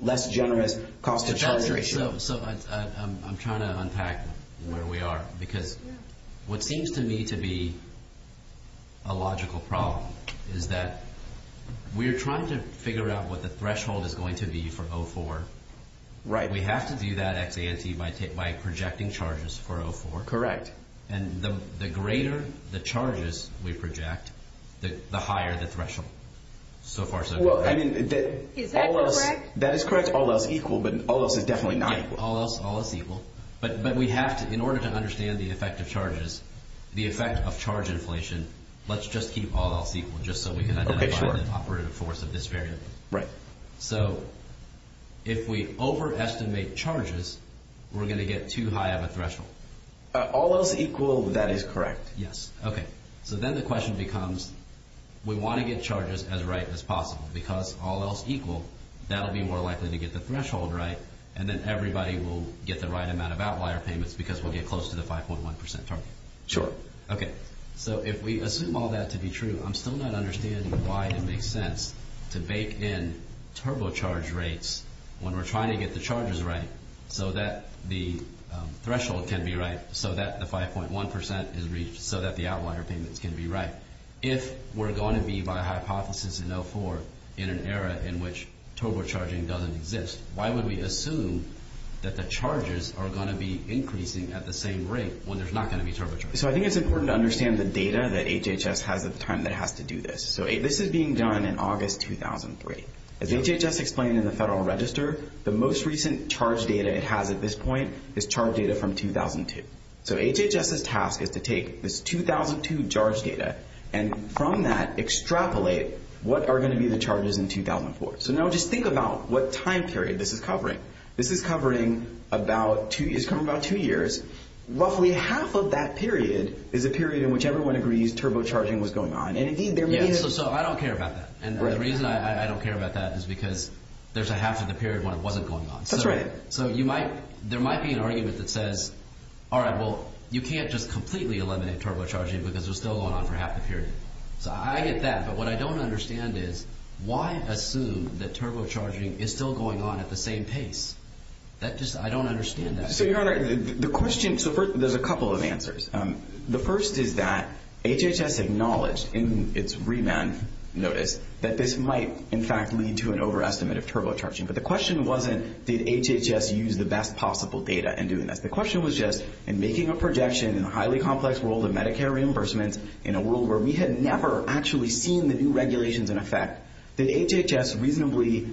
less generous cost of charge ratio. I'm trying to unpack where we are because what seems to me to be a logical problem is that we're trying to figure out what the threshold is going to be for 2004. We have to do that by projecting charges for 2004. Correct. And the greater the charges we project, the higher the threshold so far so good. Is that correct? That is correct. All else equal, but all else is definitely not equal. All else equal. But we have to, in order to understand the effect of charges, the effect of charge inflation, let's just keep all else equal just so we can identify the operative force of this variable. Right. So if we overestimate charges, we're going to get too high of a threshold. All else equal, that is correct. Yes. Okay. So then the question becomes, we want to get charges as right as possible because all else equal, that'll be more likely to get the threshold right, and then everybody will get the right amount of outlier payments because we'll get close to the 5.1% target. Sure. Okay. So if we assume all that to be true, I'm still not understanding why it makes sense to bake in turbocharge rates when we're trying to get the charges right so that the threshold can be right, so that the 5.1% is reached, so that the outlier payments can be right. If we're going to be, by hypothesis and therefore, in an era in which turbocharging doesn't exist, why would we assume that the charges are going to be increasing at the same rate when there's not going to be turbocharging? So I think it's important to understand the data that HHS has at the time that it has to do this. So this is being done in August 2003. As HHS explained in the Federal Register, the most recent charge data it has at this point is charge data from 2002. So HHS's task is to take this 2002 charge data and from that extrapolate what are going to be the charges in 2004. So now just think about what time period this is covering. This is covering about two years. Roughly half of that period is a period in which everyone agrees turbocharging was going on. So I don't care about that, and the reason I don't care about that is because there's a half of the period when it wasn't going on. So there might be an argument that says, all right, well, you can't just completely eliminate turbocharging because it's still going on for half the period. So I get that, but what I don't understand is why assume that turbocharging is still going on at the same pace? I don't understand that. So, Your Honor, there's a couple of answers. The first is that HHS acknowledged in its remand notice that this might, in fact, lead to an overestimate of turbocharging, but the question wasn't did HHS use the best possible data in doing that. The question was just in making a projection in a highly complex world of Medicare reimbursements in a world where we had never actually seen the new regulations in effect, did HHS reasonably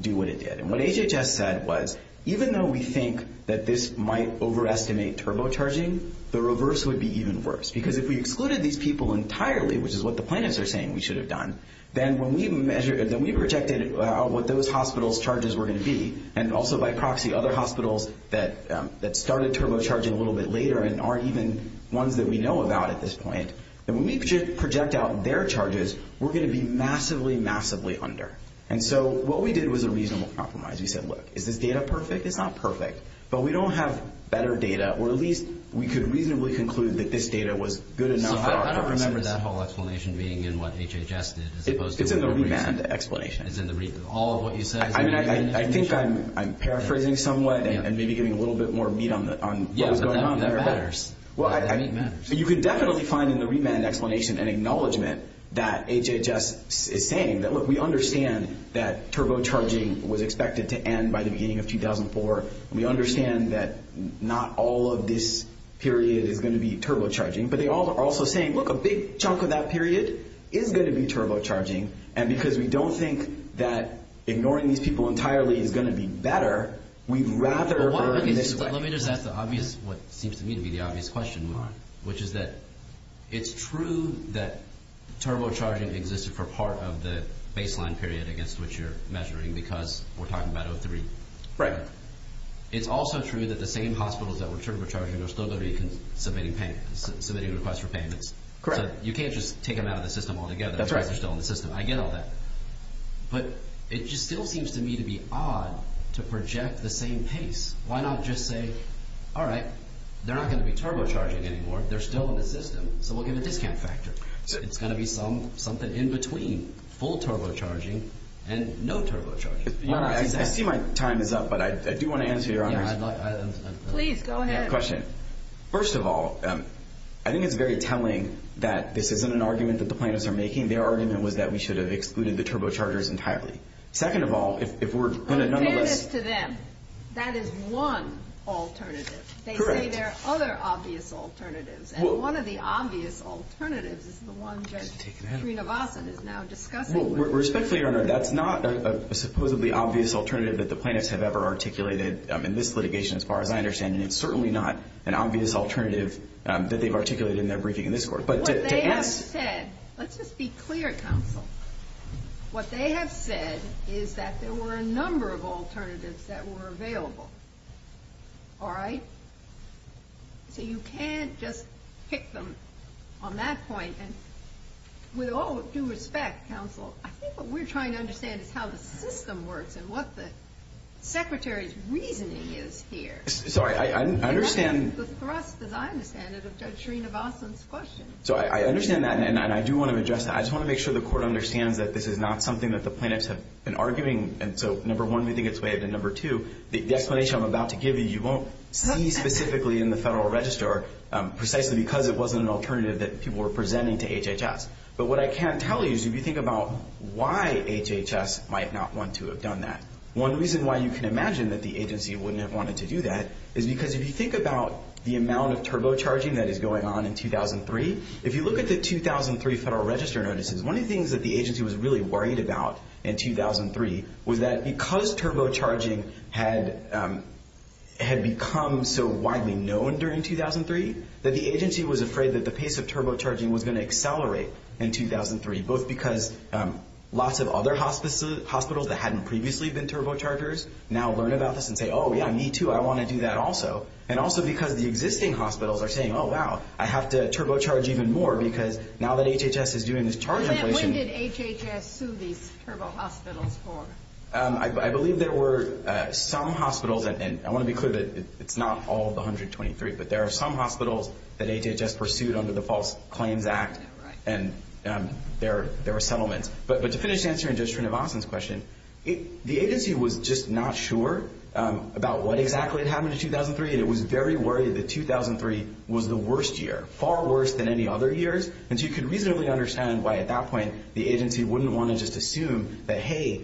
do what it did? And what HHS said was even though we think that this might overestimate turbocharging, the reverse would be even worse. Because if we excluded these people entirely, which is what the plaintiffs are saying we should have done, then when we projected what those hospitals' charges were going to be, and also by proxy other hospitals that started turbocharging a little bit later and aren't even ones that we know about at this point, then when we project out their charges, we're going to be massively, massively under. And so what we did was a reasonable compromise. We said, look, is this data perfect? It's not perfect. But we don't have better data, or at least we could reasonably conclude that this data was good enough. I don't remember that whole explanation being in what HHS is supposed to do. It's in the remand explanation. It's in all of what you said? I think I'm paraphrasing somewhat and maybe giving a little bit more meat on what's going on. Yes, that matters. You can definitely find in the remand explanation an acknowledgement that HHS is saying, look, we understand that turbocharging was expected to end by the beginning of 2004. We understand that not all of this period is going to be turbocharging. But they all are also saying, look, a big chunk of that period is going to be turbocharging. And because we don't think that ignoring these people entirely is going to be better, we'd rather... Let me just ask the obvious, what seems to me to be the obvious question, Mark, which is that it's true that turbocharging existed for part of the baseline period, I guess, which you're measuring, because we're talking about 03. Right. It's also true that the same hospitals that were turbocharging were still going to be submitting payments, submitting requests for payments. Correct. You can't just take them out of the system altogether. That's right. They're still in the system. I get all that. But it just still seems to me to be odd to project the same case. Why not just say, all right, they're not going to be turbocharging anymore. They're still in the system, so we'll get a discount factor. It's going to be something in between full turbocharging and no turbocharging. I see my time is up, but I do want to answer your question. Please, go ahead. First of all, I think it's very telling that this isn't an argument that the plaintiffs are making. Their argument was that we should have excluded the turbochargers entirely. Second of all, if we're going to... It is to them. That is one alternative. Correct. They say there are other obvious alternatives, and one of the obvious alternatives is the one that Sreenivasan is now discussing. Respectfully, that's not a supposedly obvious alternative that the plaintiffs have ever articulated in this litigation, as far as I understand. It's certainly not an obvious alternative that they've articulated in their briefing in this court. What they have said... Let's just be clear, counsel. What they have said is that there were a number of alternatives that were available. All right? You can't just kick them on that point. With all due respect, counsel, I think what we're trying to understand is how the system works and what the secretary's reasoning is here. I understand... That's the thrust, as I understand it, of Judge Sreenivasan's question. I understand that, and I do want to address that. I just want to make sure the court understands that this is not something that the plaintiffs have been arguing. Number one, we think it's waived, and number two, the explanation I'm about to give you, you won't see specifically in the Federal Register precisely because it wasn't an alternative that people were presenting to HHS. But what I can tell you is if you think about why HHS might not want to have done that, one reason why you can imagine that the agency wouldn't have wanted to do that is because if you think about the amount of turbocharging that is going on in 2003, if you look at the 2003 Federal Register notices, one of the things that the agency was really worried about in 2003 was that because turbocharging had become so widely known during 2003 that the agency was afraid that the pace of turbocharging was going to accelerate in 2003, both because lots of other hospitals that hadn't previously been turbochargers now learn about this and say, oh, yeah, me too, I want to do that also, and also because the existing hospitals are saying, oh, wow, I have to turbocharge even more because now that HHS is doing this charging solution. And when did HHS sue these turbo hospitals for? I believe there were some hospitals, and I want to be clear that it's not all of the 123, but there are some hospitals that HHS pursued under the False Claims Act, and there were settlements. But to finish answering Judge Trinavonstan's question, the agency was just not sure about what exactly had happened in 2003. It was very worried that 2003 was the worst year, far worse than any other years. And so you can reasonably understand why at that point the agency wouldn't want to just assume that, hey,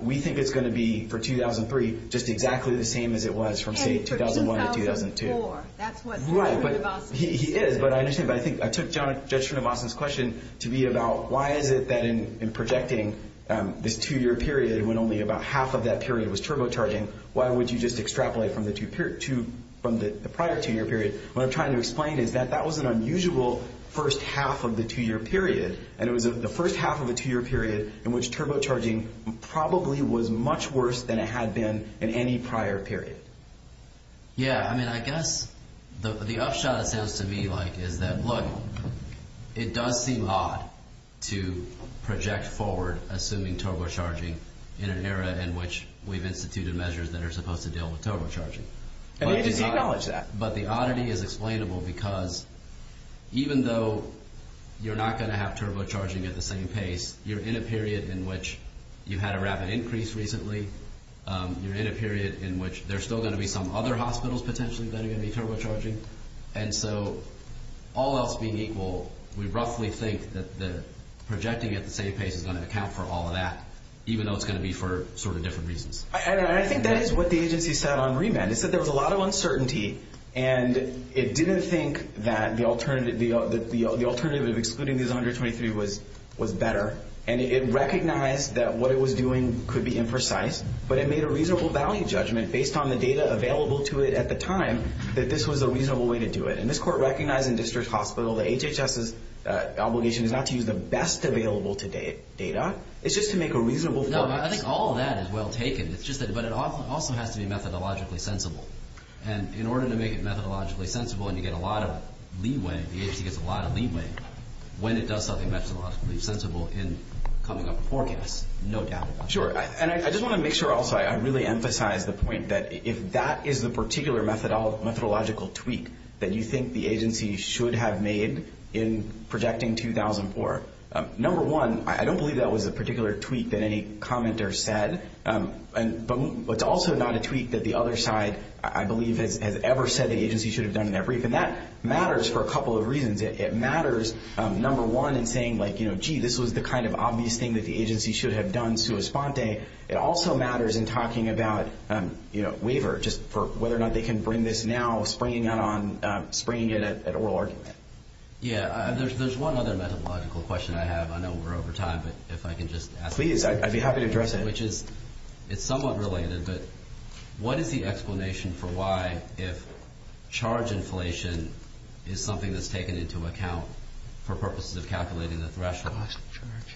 we think it's going to be for 2003 just exactly the same as it was from 2001 to 2002. Hey, it's 2004. That's what Trinavonstan said. He is, but I think I took Judge Trinavonstan's question to be about why is it that in projecting the two-year period when only about half of that period was turbocharging, why would you just extrapolate from the prior two-year period? What I'm trying to explain is that that was an unusual first half of the two-year period, and it was the first half of the two-year period in which turbocharging probably was much worse than it had been in any prior period. Yeah. I mean, I guess the upshot it sounds to me like is that, look, it does seem odd to project forward assuming turbocharging in an era in which we've instituted measures that are supposed to deal with turbocharging. And we acknowledge that. But the oddity is explainable because even though you're not going to have turbocharging at the same pace, you're in a period in which you had a rapid increase recently. You're in a period in which there's still going to be some other hospitals potentially that are going to be turbocharging. And so all else being equal, we roughly think that the projecting at the same pace is going to account for all of that, even though it's going to be for sort of different reasons. I think that is what the agency said on remand. It said there was a lot of uncertainty, and it didn't think that the alternative of excluding these 123 was better. And it recognized that what it was doing could be imprecise, but it made a reasonable value judgment based on the data available to it at the time that this was a reasonable way to do it. And this court recognized in District Hospital that HHS's obligation is not to use the best available data. It's just to make a reasonable judgment. I think all of that is well taken, but it also has to be methodologically sensible. And in order to make it methodologically sensible and to get a lot of leeway, DHC gets a lot of leeway when it does something methodologically sensible in coming up with forecasts, no doubt about it. Sure. And I just want to make sure also I really emphasize the point that if that is the particular methodological tweak that you think the agency should have made in projecting 2004, number one, I don't believe that was a particular tweak that any commenter said, but also not a tweak that the other side I believe has ever said the agency should have done in that brief. And that matters for a couple of reasons. It matters, number one, in saying like, you know, gee, this was the kind of obvious thing that the agency should have done sua sponte. It also matters in talking about, you know, waiver just for whether or not they can bring this now springing it at oral argument. Yeah. There's one other methodological question I have. I know we're over time, but if I can just ask. Please. I'd be happy to address that. It's somewhat related, but what is the explanation for why if charge inflation is something that's taken into account for purposes of calculating the threshold,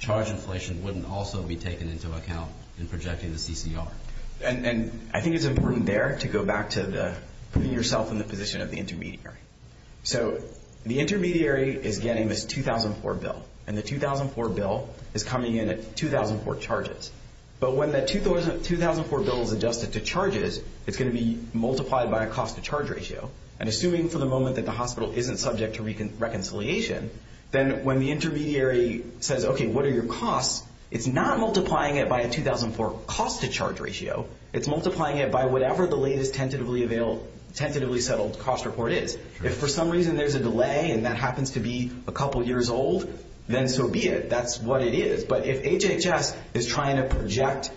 charge inflation wouldn't also be taken into account in projecting the CCR? And I think it's important there to go back to putting yourself in the position of the intermediary. So the intermediary is getting this 2004 bill, and the 2004 bill is coming in at 2004 charges. But when that 2004 bill is adjusted to charges, it's going to be multiplied by a cost-to-charge ratio. And assuming for the moment that the hospital isn't subject to reconciliation, then when the intermediary says, okay, what are your costs, it's not multiplying it by a 2004 cost-to-charge ratio. It's multiplying it by whatever the latest tentatively settled cost report is. If for some reason there's a delay and that happens to be a couple years old, then so be it. That's what it is. But if HHS is trying to project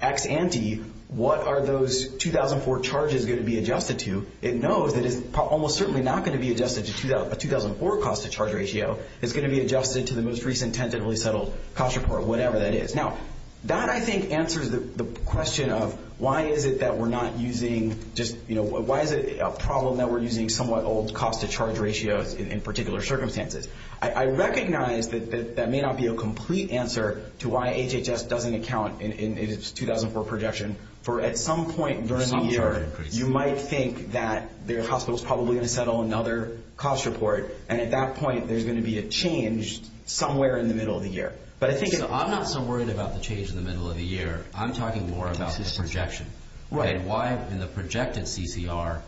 ex ante, what are those 2004 charges going to be adjusted to? It knows that it's almost certainly not going to be adjusted to a 2004 cost-to-charge ratio. It's going to be adjusted to the most recent tentatively settled cost report, whatever that is. Now, that I think answers the question of why is it that we're not using just, you know, why is it a problem that we're using somewhat old cost-to-charge ratios in particular circumstances? I recognize that that may not be a complete answer to why HHS doesn't account in its 2004 projection. For at some point during the year, you might think that their hospital is probably going to settle another cost report, and at that point there's going to be a change somewhere in the middle of the year. But I think if I'm not so worried about the change in the middle of the year, I'm talking more about this projection. Why in the projected CCR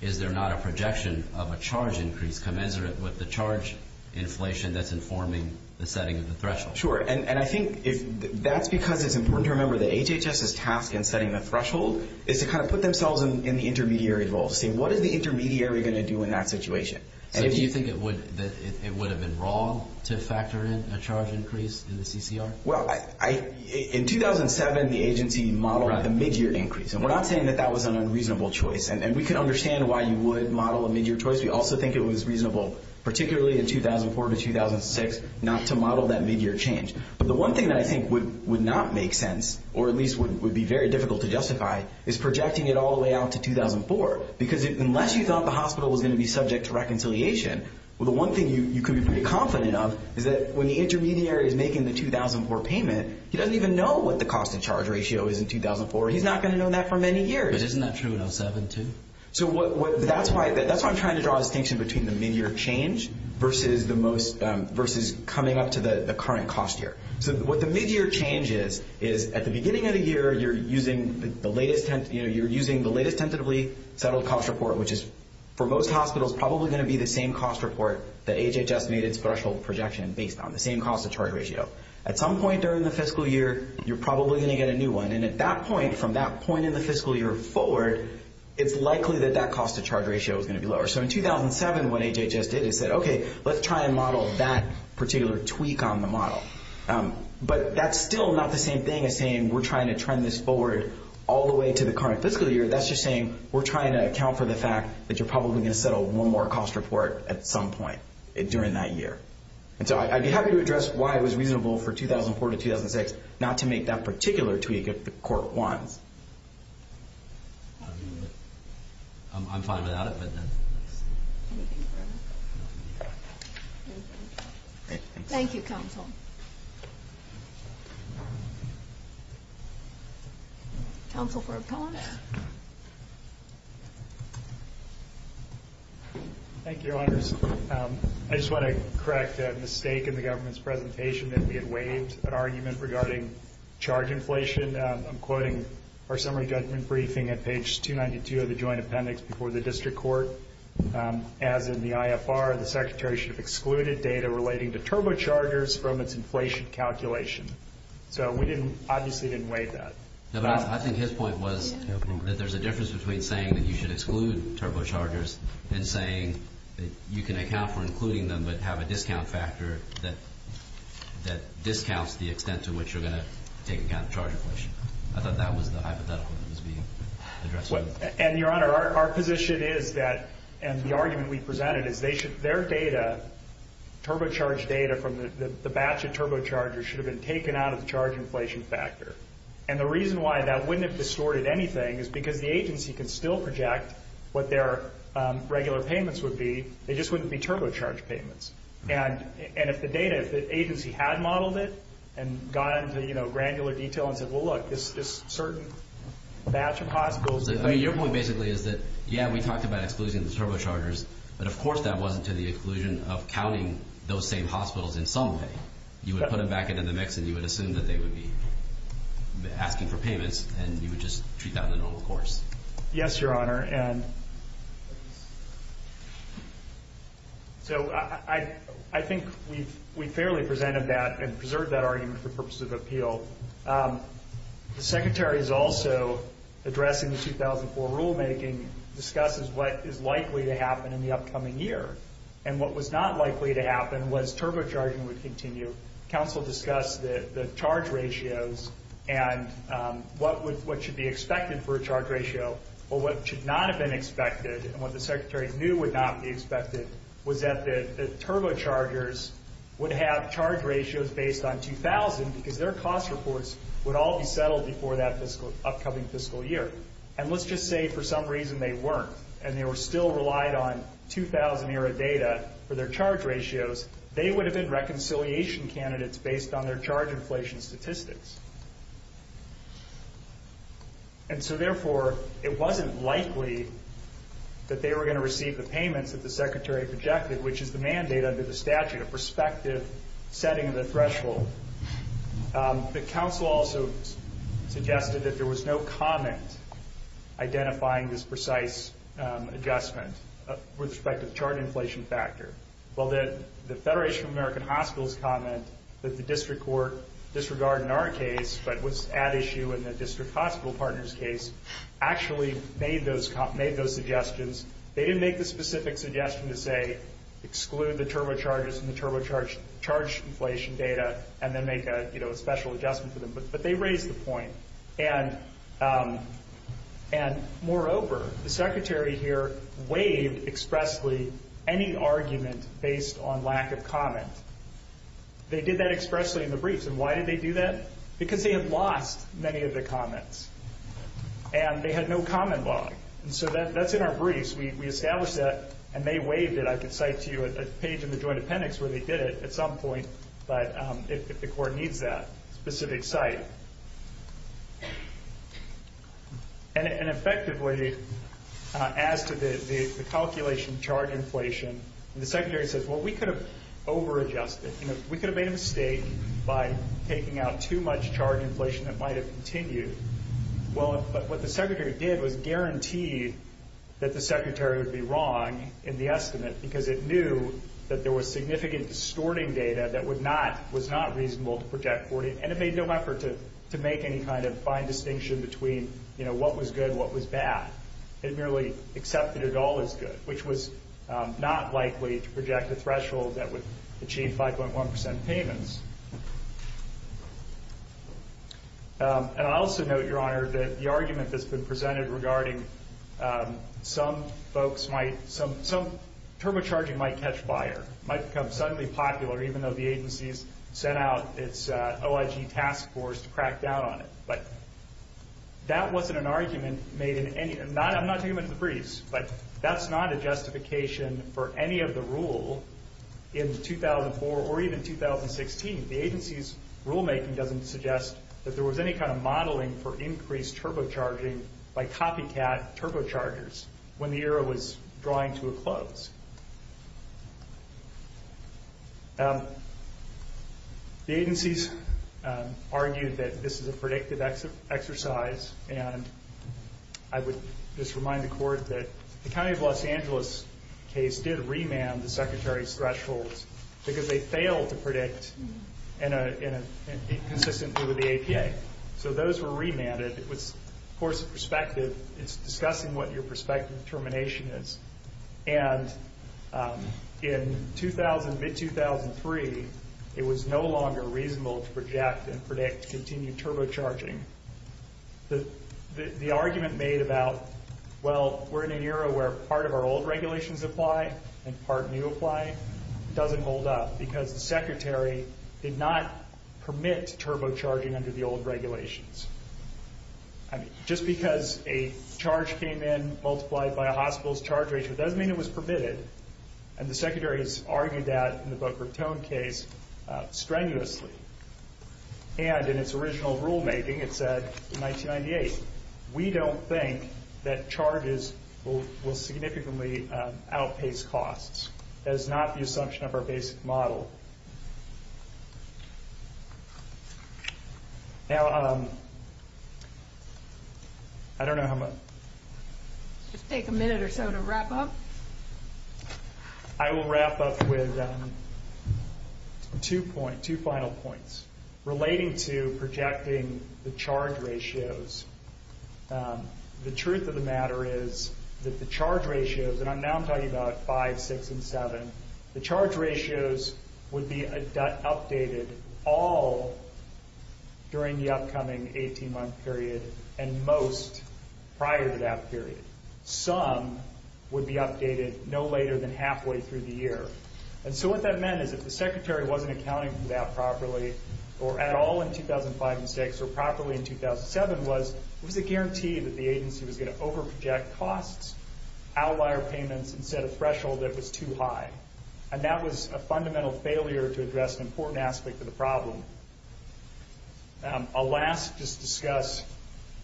is there not a projection of a charge increase commensurate with the charge inflation that's informing the setting of the threshold? Sure, and I think that's because it's important to remember that HHS's task in setting a threshold is to kind of put themselves in the intermediary's role, to say what is the intermediary going to do in that situation? Do you think it would have been wrong to factor in a charge increase in the CCR? Well, in 2007, the agency modeled a mid-year increase, and we're not saying that that was an unreasonable choice, and we can understand why you would model a mid-year choice. We also think it was reasonable, particularly in 2004 to 2006, not to model that mid-year change. But the one thing that I think would not make sense, or at least would be very difficult to justify, is projecting it all the way out to 2004, because unless you thought the hospital was going to be subject to reconciliation, the one thing you could be pretty confident of is that when the intermediary is making the 2004 payment, he doesn't even know what the cost-to-charge ratio is in 2004. He's not going to know that for many years. Isn't that true in 2007 too? So that's why I'm trying to draw a distinction between the mid-year change versus coming up to the current cost year. So what the mid-year change is, is at the beginning of the year you're using the latest sensitively settled cost report, which is for most hospitals probably going to be the same cost report that HHS needed threshold projection based on, the same cost-to-charge ratio. At some point during the fiscal year, you're probably going to get a new one. And at that point, from that point in the fiscal year forward, it's likely that that cost-to-charge ratio is going to be lower. So in 2007, what HHS did is said, okay, let's try and model that particular tweak on the model. But that's still not the same thing as saying we're trying to trend this forward all the way to the current fiscal year. That's just saying we're trying to account for the fact that you're probably going to settle one more cost report at some point during that year. And so I'd be happy to address why it was reasonable for 2004 to 2006 not to make that particular tweak at court one. I'm fine without it. Thank you, Council. Council for a pause. Thank you, Your Honors. I just want to correct a mistake in the government's presentation that we had waived an argument regarding charge inflation. I'm quoting our summary judgment briefing at page 292 of the joint appendix before the district court. As in the IFR, the Secretary should have excluded data relating to turbochargers from its inflation calculation. So we obviously didn't waive that. I think his point was that there's a difference between saying that you should exclude turbochargers and saying that you can account for including them but have a discount factor that discounts the extent to which you're going to take out the charge inflation. I thought that was the hypothetical that was being addressed. And, Your Honor, our position is that, and the argument we presented, is their data, turbocharged data from the batch of turbochargers, should have been taken out of the charge inflation factor. And the reason why that wouldn't have distorted anything is because the agency can still project what their regular payments would be. They just wouldn't be turbocharged payments. And if the data, if the agency had modeled it and gone into granular detail and said, well, look, this is just a certain batch of hot gold. I mean, your point basically is that, yeah, we talked about excluding turbochargers, but of course that wasn't to the exclusion of counting those same hospitals in some way. You would put them back into the mix and you would assume that they would be asking for payments and you would just treat that as a normal course. Yes, Your Honor. And so I think we fairly presented that and preserved that argument for purposes of appeal. The Secretary is also addressing the 2004 rulemaking, discusses what is likely to happen in the upcoming year. And what was not likely to happen was turbocharging would continue. Council discussed the charge ratios and what should be expected for a charge ratio or what should not have been expected and what the Secretary knew would not be expected was that the turbochargers would have charge ratios based on 2000 because their cost reports would all be settled before that upcoming fiscal year. And let's just say for some reason they weren't and they were still relied on 2000-era data for their charge ratios, they would have been reconciliation candidates based on their charge inflation statistics. And so, therefore, it wasn't likely that they were going to receive the payment that the Secretary projected, which is the mandate under the statute, a prospective setting of the threshold. The Council also suggested that there was no comment identifying this precise adjustment with respect to the charge inflation factor. Well, the Federation of American Hospitals' comment with the District Court disregarding our case but was at issue in the District Hospital Partners' case actually made those suggestions. They didn't make the specific suggestion to say exclude the turbochargers and the turbocharged charge inflation data and then make a special adjustment for them, but they raised the point. And moreover, the Secretary here waived expressly any argument based on lack of comment. They did that expressly in the briefs. And why did they do that? Because they had lost many of their comments and they had no comment log. And so that's in our briefs. We established that and they waived it. I can cite to you a page in the Joint Appendix where they did it at some point, but the court needs that specific site. And effectively, as to the calculation charge inflation, the Secretary says, Well, we could have over-adjusted. We could have made a mistake by taking out too much charge inflation that might have continued. Well, what the Secretary did was guarantee that the Secretary would be wrong in the estimate because it knew that there was significant distorting data that was not reasonable to project for you, and it made no effort to make any kind of fine distinction between, you know, what was good and what was bad. It merely accepted it all as good, which was not likely to project a threshold that would achieve 5.1% payments. And I also note, Your Honor, that the argument that's been presented regarding some folks might, some turbocharging might catch fire, might become suddenly popular, even though the agency has sent out its OIG task force to crack down on it. But that wasn't an argument made in any, I'm not talking about the briefs, but that's not a justification for any of the rule in 2004 or even 2016. The agency's rulemaking doesn't suggest that there was any kind of modeling for increased turbocharging by copycat turbochargers when the era was drawing to a close. The agency's argued that this is a predictive exercise, and I would just remind the Court that the County of Los Angeles case did remand the Secretary's thresholds because they failed to predict and be consistent with the APA. So those were remanded. It was, of course, a perspective. It's discussing what your perspective determination is. And in 2000, mid-2003, it was no longer reasonable to project and predict continued turbocharging. The argument made about, well, we're in an era where part of our old regulations apply and part new apply doesn't hold up because the Secretary did not permit turbocharging under the old regulations. Just because a charge came in multiplied by a hospital's charge ratio doesn't mean it was permitted, and the Secretary has argued that in the Boca Raton case strenuously. And in its original rulemaking, it said in 1998, we don't think that charges will significantly outpace costs. That is not the assumption of our basic model. Now, I don't know how much. Just take a minute or so to wrap up. I will wrap up with two final points relating to projecting the charge ratios. The truth of the matter is that the charge ratios, and I'm now talking about 5, 6, and 7. The charge ratios would be updated all during the upcoming 18-month period and most prior to that period. Some would be updated no later than halfway through the year. And so what that meant is if the Secretary wasn't accounting for that properly, or at all in 2005 and 2006, or properly in 2007, was the guarantee that the agency was going to overproject costs, outlier payments, instead of threshold that was too high. And that was a fundamental failure to address an important aspect of the problem. I'll last just discuss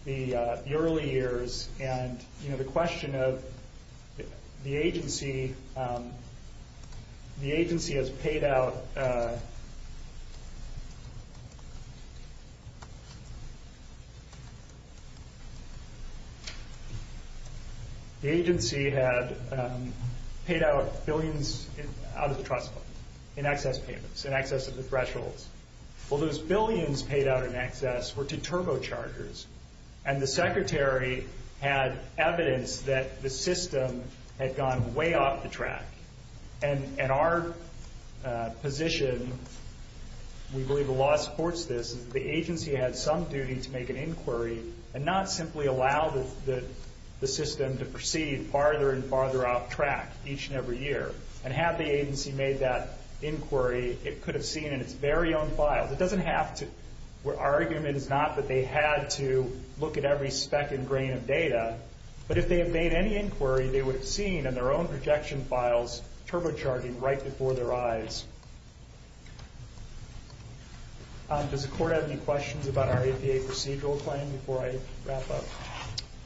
the early years and, you know, the question of the agency. The agency has paid out... The agency had paid out billions out of the trust fund in excess payments, in excess of the thresholds. Well, those billions paid out in excess were to turbochargers. And the Secretary had evidence that the system had gone way off the track. And our position, we believe the law supports this, the agency had some duty to make an inquiry and not simply allow the system to proceed farther and farther off track each and every year. And had the agency made that inquiry, it could have seen its very own file. It doesn't have to... Our argument is not that they had to look at every speck and grain of data, but if they had made any inquiry, they would have seen in their own projection files turbocharging right before their eyes. Does the Court have any questions about our APA procedural claim before I wrap up?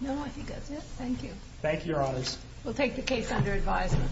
No, I think that's it. Thank you. Thank you, Your Honors. We'll take the case under advisement.